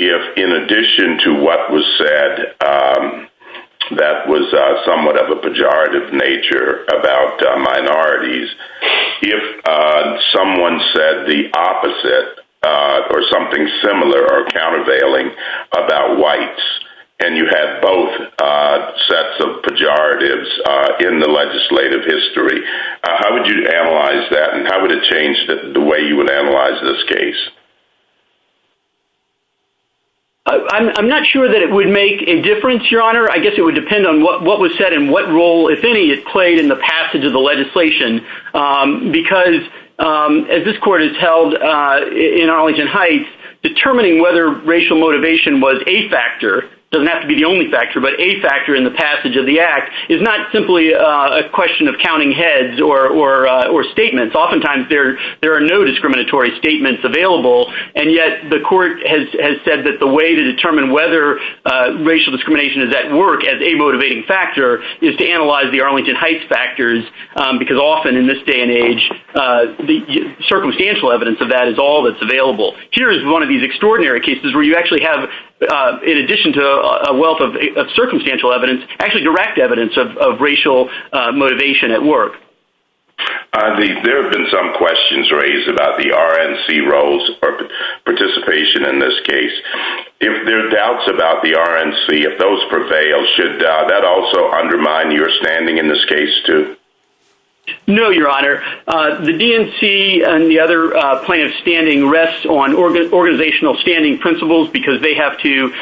If, in addition to what was said that was somewhat of a pejorative nature about minorities, if someone said the opposite or something similar or countervailing about whites, and you had both sets of pejoratives in the legislative history, how would you analyze that and how would it change the way you would analyze this case? I'm not sure that it would make a difference, Your Honor. I guess it would depend on what was said and what role, if any, it played in the passage of the legislation. Because, as this Court has held in Arlington Heights, determining whether racial motivation was a factor, doesn't have to be the only factor, but a factor in the passage of the Act is not simply a question of counting heads or statements. Oftentimes there are no discriminatory statements available, and yet the Court has said that the way to determine whether racial discrimination is at work as a motivating factor is to analyze the Arlington Heights factors, because often in this day and age, the circumstantial evidence of that is all that's available. Here's one of these extraordinary cases where you actually have, in addition to a wealth of circumstantial evidence, actually direct evidence of racial motivation at work. There have been some questions raised about the RNC roles or participation in this case. If there are doubts about the RNC, if those prevail, should that also undermine your standing in this case, too? No, Your Honor. The DNC and the other plaintiffs' standing rests on organizational standing principles because they have to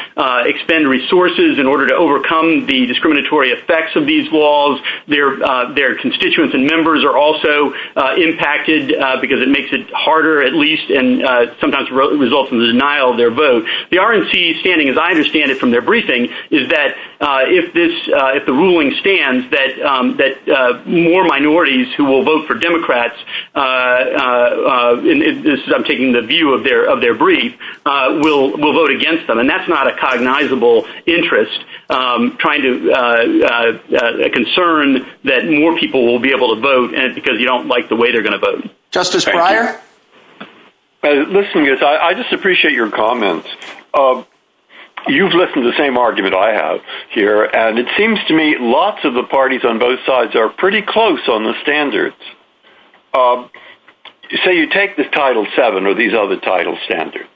expend resources in order to overcome the discriminatory effects of these laws. Their constituents and members are also impacted because it makes it harder, at least, and sometimes results in the denial of their vote. The RNC's standing, as I understand it from their briefing, is that if the ruling stands that more minorities who will vote for Democrats, I'm taking the view of their brief, will vote against them, and that's not a cognizable interest, a concern that more people will be able to vote because you don't like the way they're going to vote. Justice Breyer? Listen, I just appreciate your comments. You've listened to the same argument I have here, and it seems to me lots of the parties on both sides are pretty close on the standards. So you take the Title VII or these other title standards.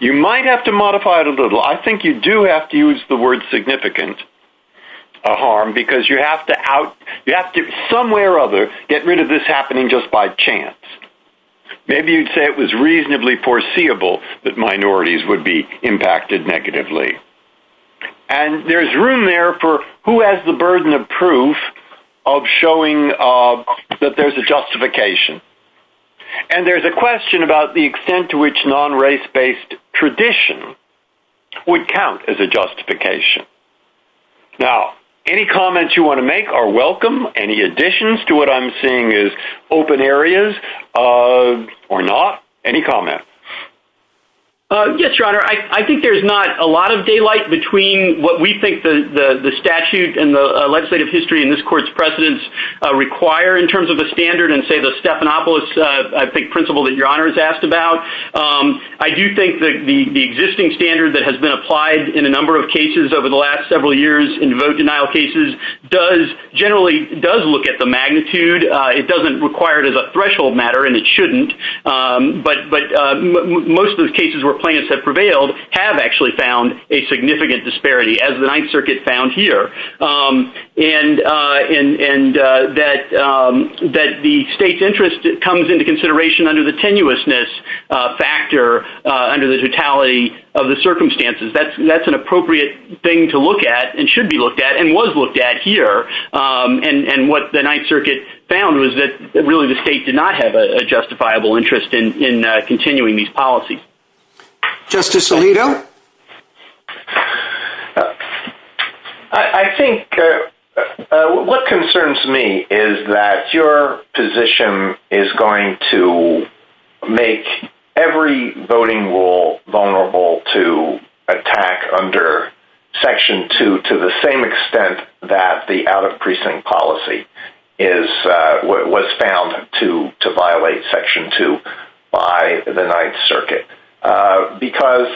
You might have to modify it a little. I think you do have to use the word significant harm because you have to, somewhere or other, get rid of this happening just by chance. Maybe you'd say it was reasonably foreseeable that minorities would be impacted negatively. And there's room there for who has the burden of proof of showing that there's a justification. And there's a question about the extent to which non-race-based tradition would count as a justification. Now, any comments you want to make are welcome. Any additions to what I'm seeing as open areas or not? Any comments? Yes, Your Honor. I think there's not a lot of daylight between what we think the statute and the legislative history in this Court's precedents require in terms of a standard and, say, the Stephanopoulos principle that Your Honor has asked about. I do think that the existing standard that has been applied in a number of cases over the last several years in vote-denial cases generally does look at the magnitude. It doesn't require it as a threshold matter, and it shouldn't. But most of the cases where plaintiffs have prevailed have actually found a significant disparity, as the Ninth Circuit found here, and that the state's interest comes into consideration under the tenuousness factor under the totality of the circumstances. That's an appropriate thing to look at and should be looked at and was looked at here. And what the Ninth Circuit found was that really the state did not have a justifiable interest in continuing these policies. Justice Alito? I think what concerns me is that your position is going to make every voting rule vulnerable to attack under Section 2 to the same extent that the out-of-precinct policy was found to violate Section 2 by the Ninth Circuit, because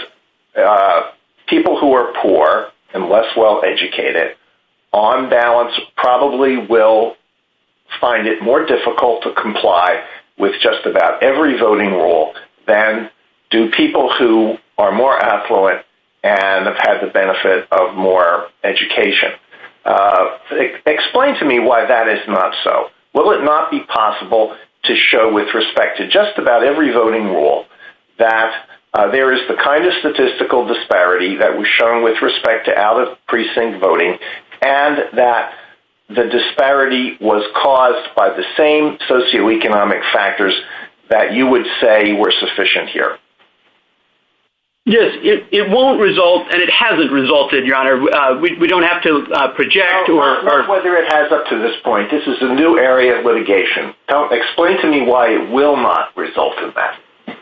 people who are poor and less well-educated on balance probably will find it more difficult to comply with just about every voting rule than do people who are more affluent and have had the benefit of more education. Explain to me why that is not so. Will it not be possible to show with respect to just about every voting rule that there is the kind of statistical disparity that was shown with respect to out-of-precinct voting and that the disparity was caused by the same socioeconomic factors that you would say were sufficient here? Yes, it won't result, and it hasn't resulted, Your Honor. We don't have to project. Or whether it has up to this point. This is a new area of litigation. Explain to me why it will not result in that.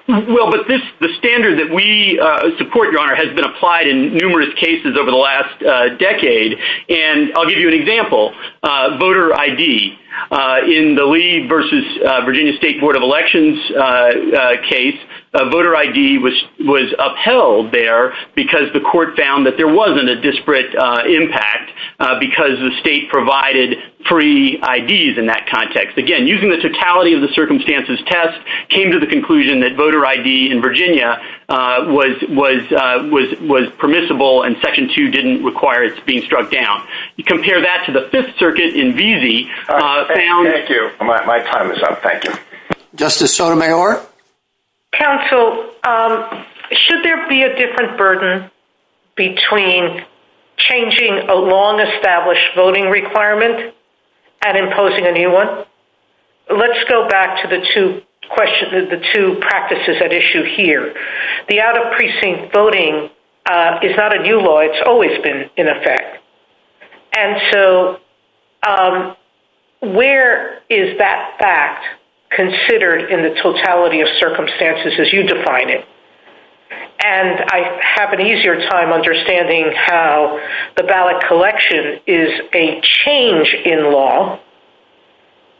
Well, but the standard that we support, Your Honor, has been applied in numerous cases over the last decade, and I'll give you an example. Voter ID. In the Lee v. Virginia State Board of Elections case, voter ID was upheld there because the court found that there wasn't a disparate impact because the state provided free IDs in that context. Again, using the totality of the circumstances test, came to the conclusion that voter ID in Virginia was permissible and Section 2 didn't require it being struck down. You compare that to the Fifth Circuit in Veazey. Thank you. My time is up. Justice Sotomayor? Counsel, should there be a different burden between changing a long-established voting requirement and imposing a new one? Let's go back to the two practices at issue here. The out-of-precinct voting is not a new law. It's always been in effect. And so where is that fact considered in the totality of circumstances as you define it? And I have an easier time understanding how the ballot collection is a change in law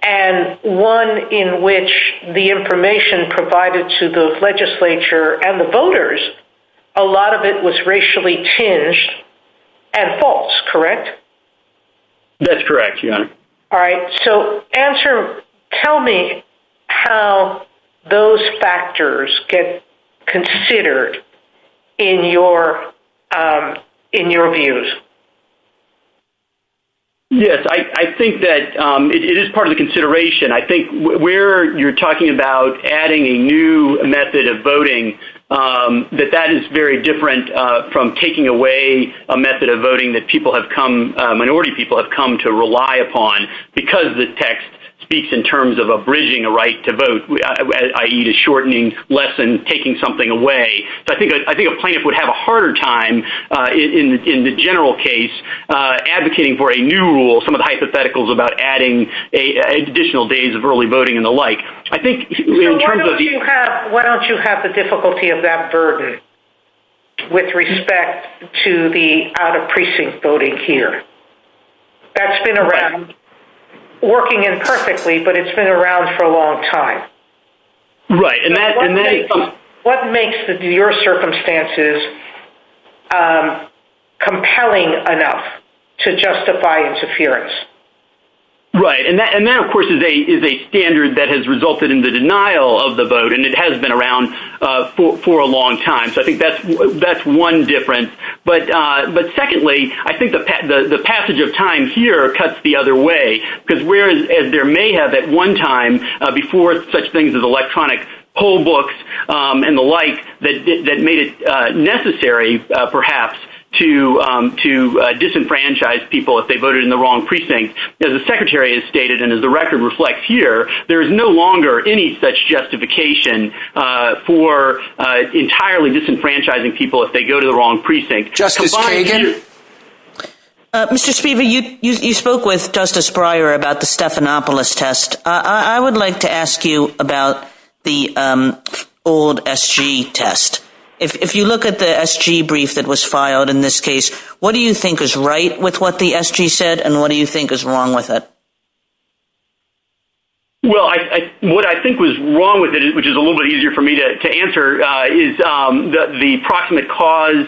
and one in which the information provided to the legislature and the voters, a lot of it was racially changed and false, correct? That's correct, Your Honor. All right. So answer, tell me how those factors get considered in your views. Yes, I think that it is part of the consideration. I think where you're talking about adding a new method of voting that that is very different from taking away a method of voting that people have come, minority people have come to rely upon because the text speaks in terms of abridging a right to vote, i.e. a shortening less than taking something away. So I think a plaintiff would have a harder time in the general case advocating for a new rule, some of the hypotheticals about adding additional days of early voting and the like. Why don't you have the difficulty of that burden with respect to the out-of-precinct voting here? That's been around, working imperfectly, but it's been around for a long time. Right. What makes your circumstances compelling enough to justify interference? Right. And that, of course, is a standard that has resulted in the denial of the vote, and it has been around for a long time. So I think that's one difference. But secondly, I think the passage of time here cuts the other way because there may have at one time before such things as electronic poll books and the like that made it necessary perhaps to disenfranchise people if they voted in the wrong precinct. As the Secretary has stated and as the record reflects here, there is no longer any such justification for entirely disenfranchising people if they go to the wrong precinct. Justice Kagan? Mr. Spiva, you spoke with Justice Breyer about the Stephanopoulos test. I would like to ask you about the old SG test. If you look at the SG brief that was filed in this case, what do you think is right with what the SG said, and what do you think is wrong with it? Well, what I think was wrong with it, which is a little bit easier for me to answer, is that the proximate cause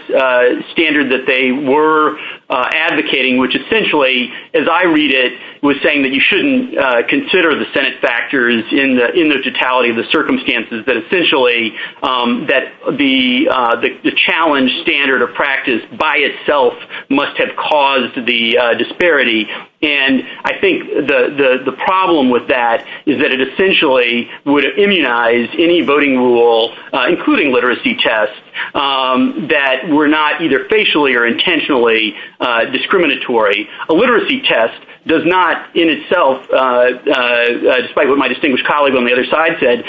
standard that they were advocating, which essentially as I read it was saying that you shouldn't consider the Senate factors in the totality of the circumstances, but essentially that the challenge standard of practice by itself must have caused the disparity. And I think the problem with that is that it essentially would immunize any voting rule, including literacy tests, that were not either facially or intentionally discriminatory. A literacy test does not in itself, despite what my distinguished colleague on the other side said,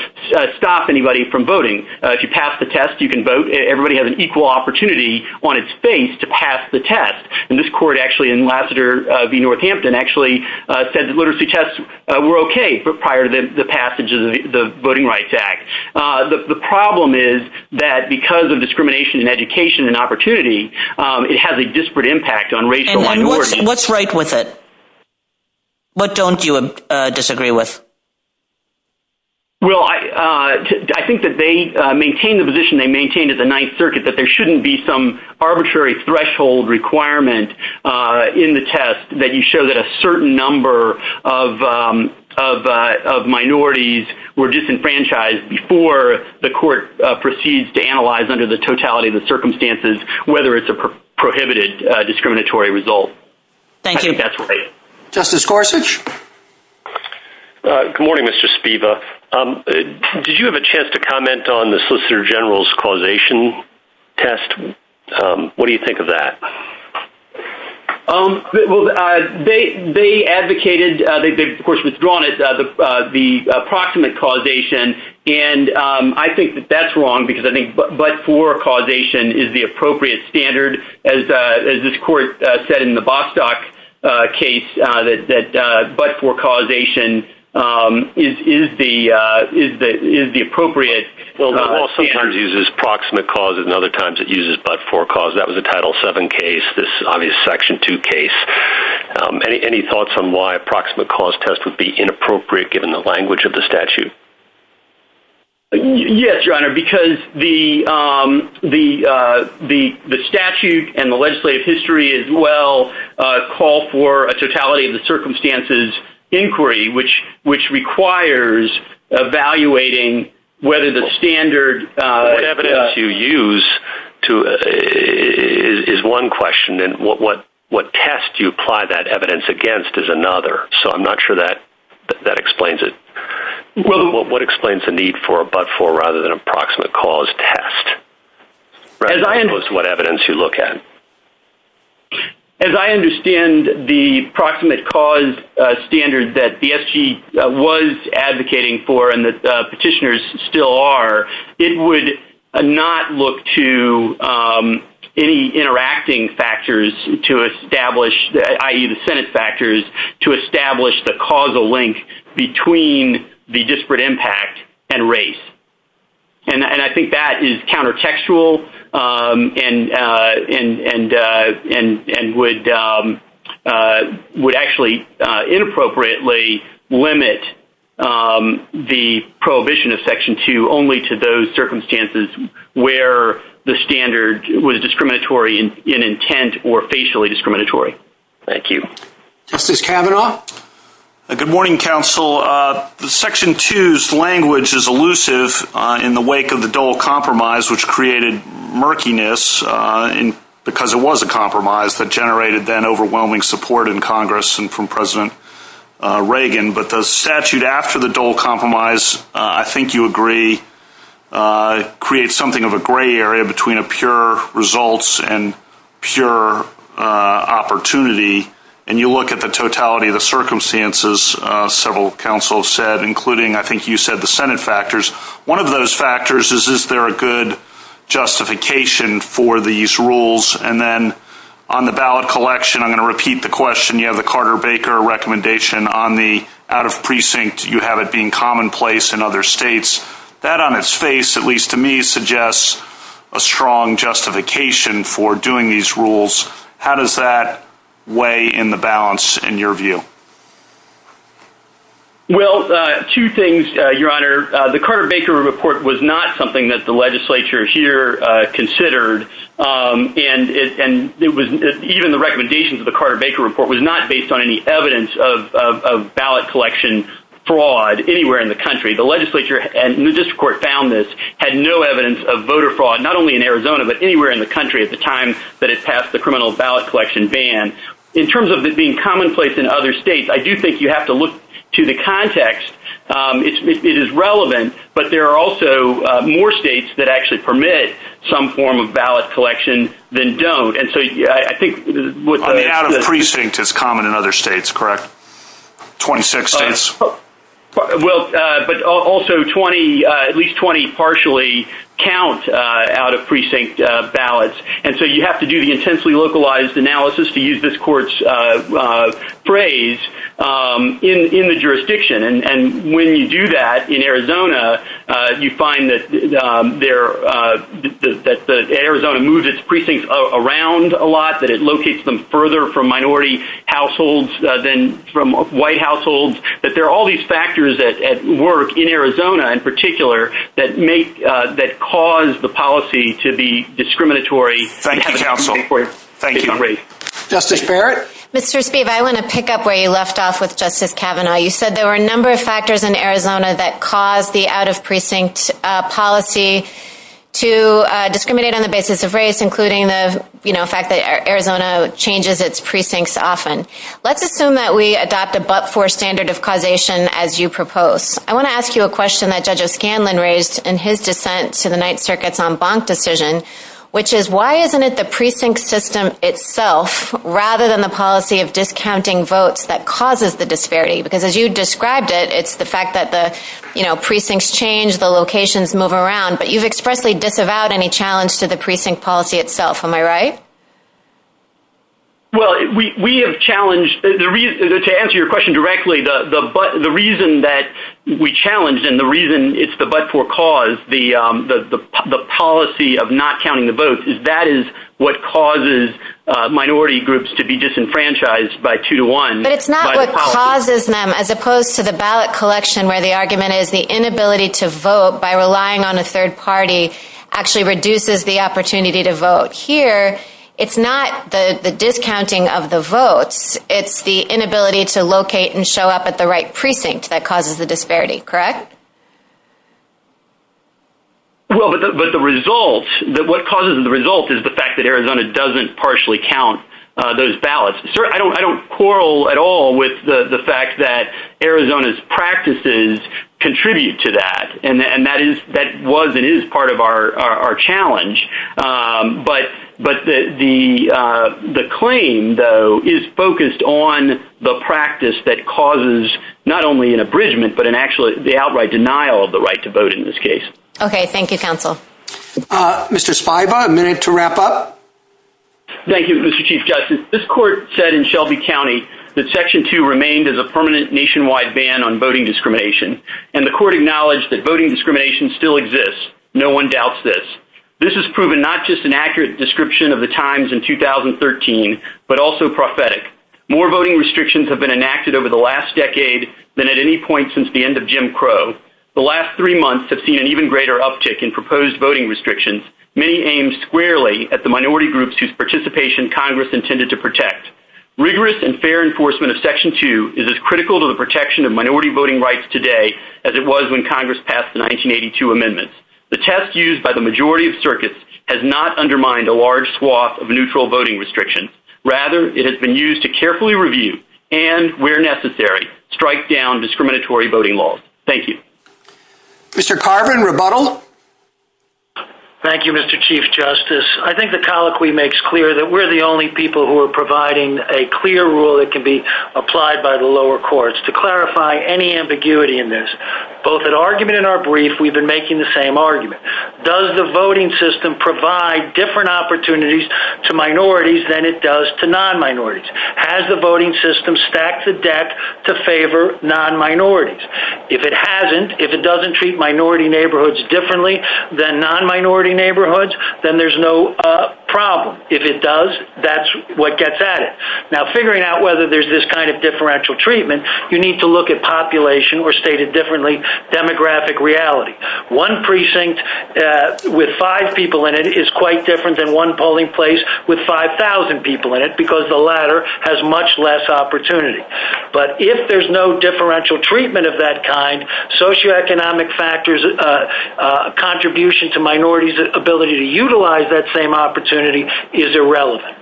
stop anybody from voting. If you pass the test, you can vote. Everybody has an equal opportunity on its face to pass the test. And this court actually in Lassiter v. Northampton actually said that literacy tests were okay prior to the passage of the Voting Rights Act. The problem is that because of discrimination in education and opportunity, it has a disparate impact on racial minorities. And what's right with it? What don't you disagree with? Well, I think that they maintained the position they maintained at the Ninth Circuit that there shouldn't be some arbitrary threshold requirement in the test that you show that a certain number of minorities were disenfranchised before the court proceeds to analyze under the totality of the circumstances whether it's a prohibited discriminatory result. Thank you. I think that's right. Justice Gorsuch? Good morning, Mr. Spiva. Did you have a chance to comment on the Solicitor General's causation test? What do you think of that? Well, they advocated, they of course withdrawn it, the approximate causation. And I think that that's wrong because I think but for causation is the appropriate standard. As this court said in the Bostock case, that but for causation is the appropriate standard. The law sometimes uses proximate cause and other times it uses but for cause. That was a Title VII case, this obvious Section 2 case. Any thoughts on why a proximate cause test would be inappropriate given the language of the statute? Yes, Your Honor, because the statute and the legislative history as well call for a totality of the circumstances inquiry which requires evaluating whether the standard evidence you use is one question and what test you apply that evidence against is another. So I'm not sure that explains it. What explains the need for a but for rather than a proximate cause test? What evidence do you look at? As I understand the proximate cause standard that BSG was advocating for and that petitioners still are, it would not look to any interacting factors to establish, i.e. the Senate factors, to establish the causal link between the disparate impact and race. And I think that is countertextual and would actually inappropriately limit the prohibition of Section 2 only to those circumstances where the standard was discriminatory in intent or facially discriminatory. Thank you. Justice Kavanaugh? Good morning, counsel. Section 2's language is elusive in the wake of the Dole Compromise which created murkiness because it was a compromise that generated then overwhelming support in Congress and from President Reagan. But the statute after the Dole Compromise, I think you agree, creates something of a gray area between a pure results and pure opportunity. And you look at the totality of the circumstances, several counsels said, including I think you said the Senate factors. One of those factors is, is there a good justification for these rules? And then on the ballot collection, I'm going to repeat the question. You have the Carter Baker recommendation on the out-of-precinct. You have it being commonplace in other states. That on its face, at least to me, suggests a strong justification for doing these rules. How does that weigh in the balance in your view? Well, two things, Your Honor. The Carter Baker report was not something that the legislature here considered, and even the recommendations of the Carter Baker report was not based on any evidence of ballot collection fraud anywhere in the country. The legislature, and the district court found this, had no evidence of voter fraud, not only in Arizona but anywhere in the country at the time that it passed the criminal ballot collection ban. In terms of it being commonplace in other states, I do think you have to look to the context. It is relevant, but there are also more states that actually permit some form of ballot collection than don't. And so I think what the- Out-of-precinct is common in other states, correct? 26 states? Well, but also at least 20 partially count out-of-precinct ballots. And so you have to do the intensely localized analysis, to use this court's phrase, in the jurisdiction. And when you do that in Arizona, you find that Arizona moves its precincts around a lot, that it locates them further from minority households than from white households. But there are all these factors at work in Arizona, in particular, that cause the policy to be discriminatory. Thank you, counsel. Thank you. Justice Barrett? Mr. Steeve, I want to pick up where you left off with Justice Kavanaugh. You said there were a number of factors in Arizona that caused the out-of-precinct policy to discriminate on the basis of race, including the fact that Arizona changes its precincts often. Let's assume that we adopt a but-for standard of causation as you propose. I want to ask you a question that Judge O'Scanlan raised in his dissent to the Ninth Circuit's en banc decision, which is, why isn't it the precinct system itself, rather than the policy of discounting votes, that causes the disparity? Because as you described it, it's the fact that the precincts change, the locations move around, but you've expressly disavowed any challenge to the precinct policy itself. Am I right? Well, we have challenged, to answer your question directly, the reason that we challenge and the reason it's the but-for cause, the policy of not counting the votes, is that is what causes minority groups to be disenfranchised by two-to-one. But it's not what causes them, as opposed to the ballot collection, where the argument is the inability to vote by relying on a third party actually reduces the opportunity to vote. Here, it's not the discounting of the votes. It's the inability to locate and show up at the right precinct that causes the disparity. Correct? Well, but the result, what causes the result is the fact that Arizona doesn't partially count those ballots. I don't quarrel at all with the fact that Arizona's practices contribute to that, and that was and is part of our challenge. But the claim, though, is focused on the practice that causes not only an abridgment, but actually the outright denial of the right to vote in this case. Okay. Thank you, counsel. Mr. Spiba, I'm going to have to wrap up. Thank you, Mr. Chief Justice. This court said in Shelby County that Section 2 remained as a permanent nationwide ban on voting discrimination, and the court acknowledged that voting discrimination still exists. No one doubts this. This has proven not just an accurate description of the times in 2013, but also prophetic. More voting restrictions have been enacted over the last decade than at any point since the end of Jim Crow. The last three months have seen an even greater uptick in proposed voting restrictions, many aimed squarely at the minority groups whose participation Congress intended to protect. Rigorous and fair enforcement of Section 2 is as critical to the protection of minority voting rights today as it was when Congress passed the 1982 amendments. The test used by the majority of circuits has not undermined a large swath of neutral voting restrictions. Rather, it has been used to carefully review and, where necessary, strike down discriminatory voting laws. Thank you. Mr. Carbon, rebuttal. Thank you, Mr. Chief Justice. I think the colloquy makes clear that we're the only people who are providing a clear rule that can be applied by the lower courts. To clarify any ambiguity in this, both at argument and our brief, we've been making the same argument. Does the voting system provide different opportunities to minorities than it does to non-minorities? Has the voting system stacked the deck to favor non-minorities? If it hasn't, if it doesn't treat minority neighborhoods differently than non-minority neighborhoods, then there's no problem. If it does, that's what gets at it. Now, figuring out whether there's this kind of differential treatment, you need to look at population or, stated differently, demographic reality. One precinct with five people in it is quite different than one polling place with 5,000 people in it because the latter has much less opportunity. But if there's no differential treatment of that kind, socioeconomic factors, a contribution to minorities' ability to utilize that same opportunity is irrelevant.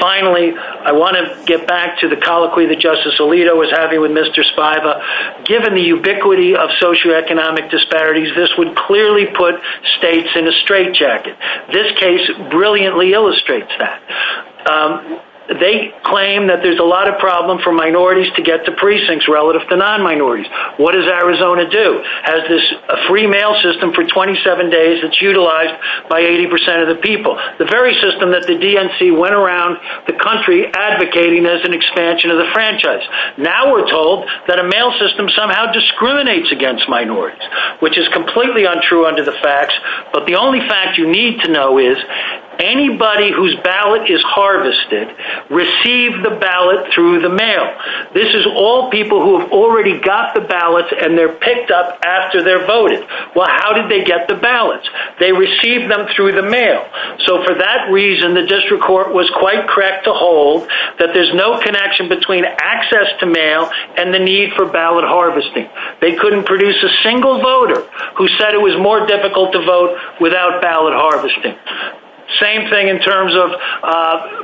Finally, I want to get back to the colloquy that Justice Alito was having with Mr. Spiva. Given the ubiquity of socioeconomic disparities, this would clearly put states in a straitjacket. This case brilliantly illustrates that. They claim that there's a lot of problem for minorities to get to precincts relative to non-minorities. What does Arizona do? Has this free mail system for 27 days that's utilized by 80% of the people, the very system that the DNC went around the country advocating as an expansion of the franchise. Now we're told that a mail system somehow discriminates against minorities, which is completely untrue under the facts. But the only fact you need to know is anybody whose ballot is harvested received the ballot through the mail. This is all people who've already got the ballots and they're picked up after they're voted. Well, how did they get the ballots? They received them through the mail. So for that reason, the district court was quite correct to hold that there's no connection between access to mail and the need for ballot harvesting. They couldn't produce a single voter who said it was more difficult to vote without ballot harvesting. Same thing in terms of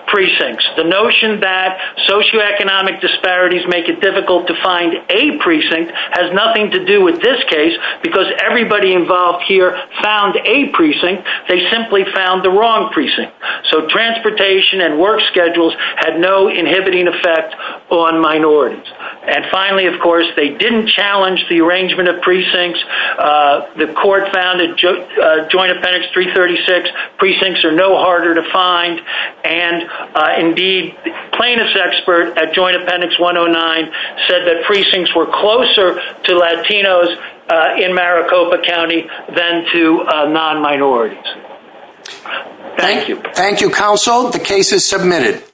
precincts. The notion that socioeconomic disparities make it difficult to find a precinct has nothing to do with this case because everybody involved here found a precinct. They simply found the wrong precinct. So transportation and work schedules had no inhibiting effect on minorities. And finally, of course, they didn't challenge the arrangement of precincts. The court found in Joint Appendix 336, precincts are no harder to find. And indeed, the plaintiff's expert at Joint Appendix 109 said that precincts were closer to Latinos in Maricopa County than to non-minorities. Thank you. Thank you, counsel. The case is submitted.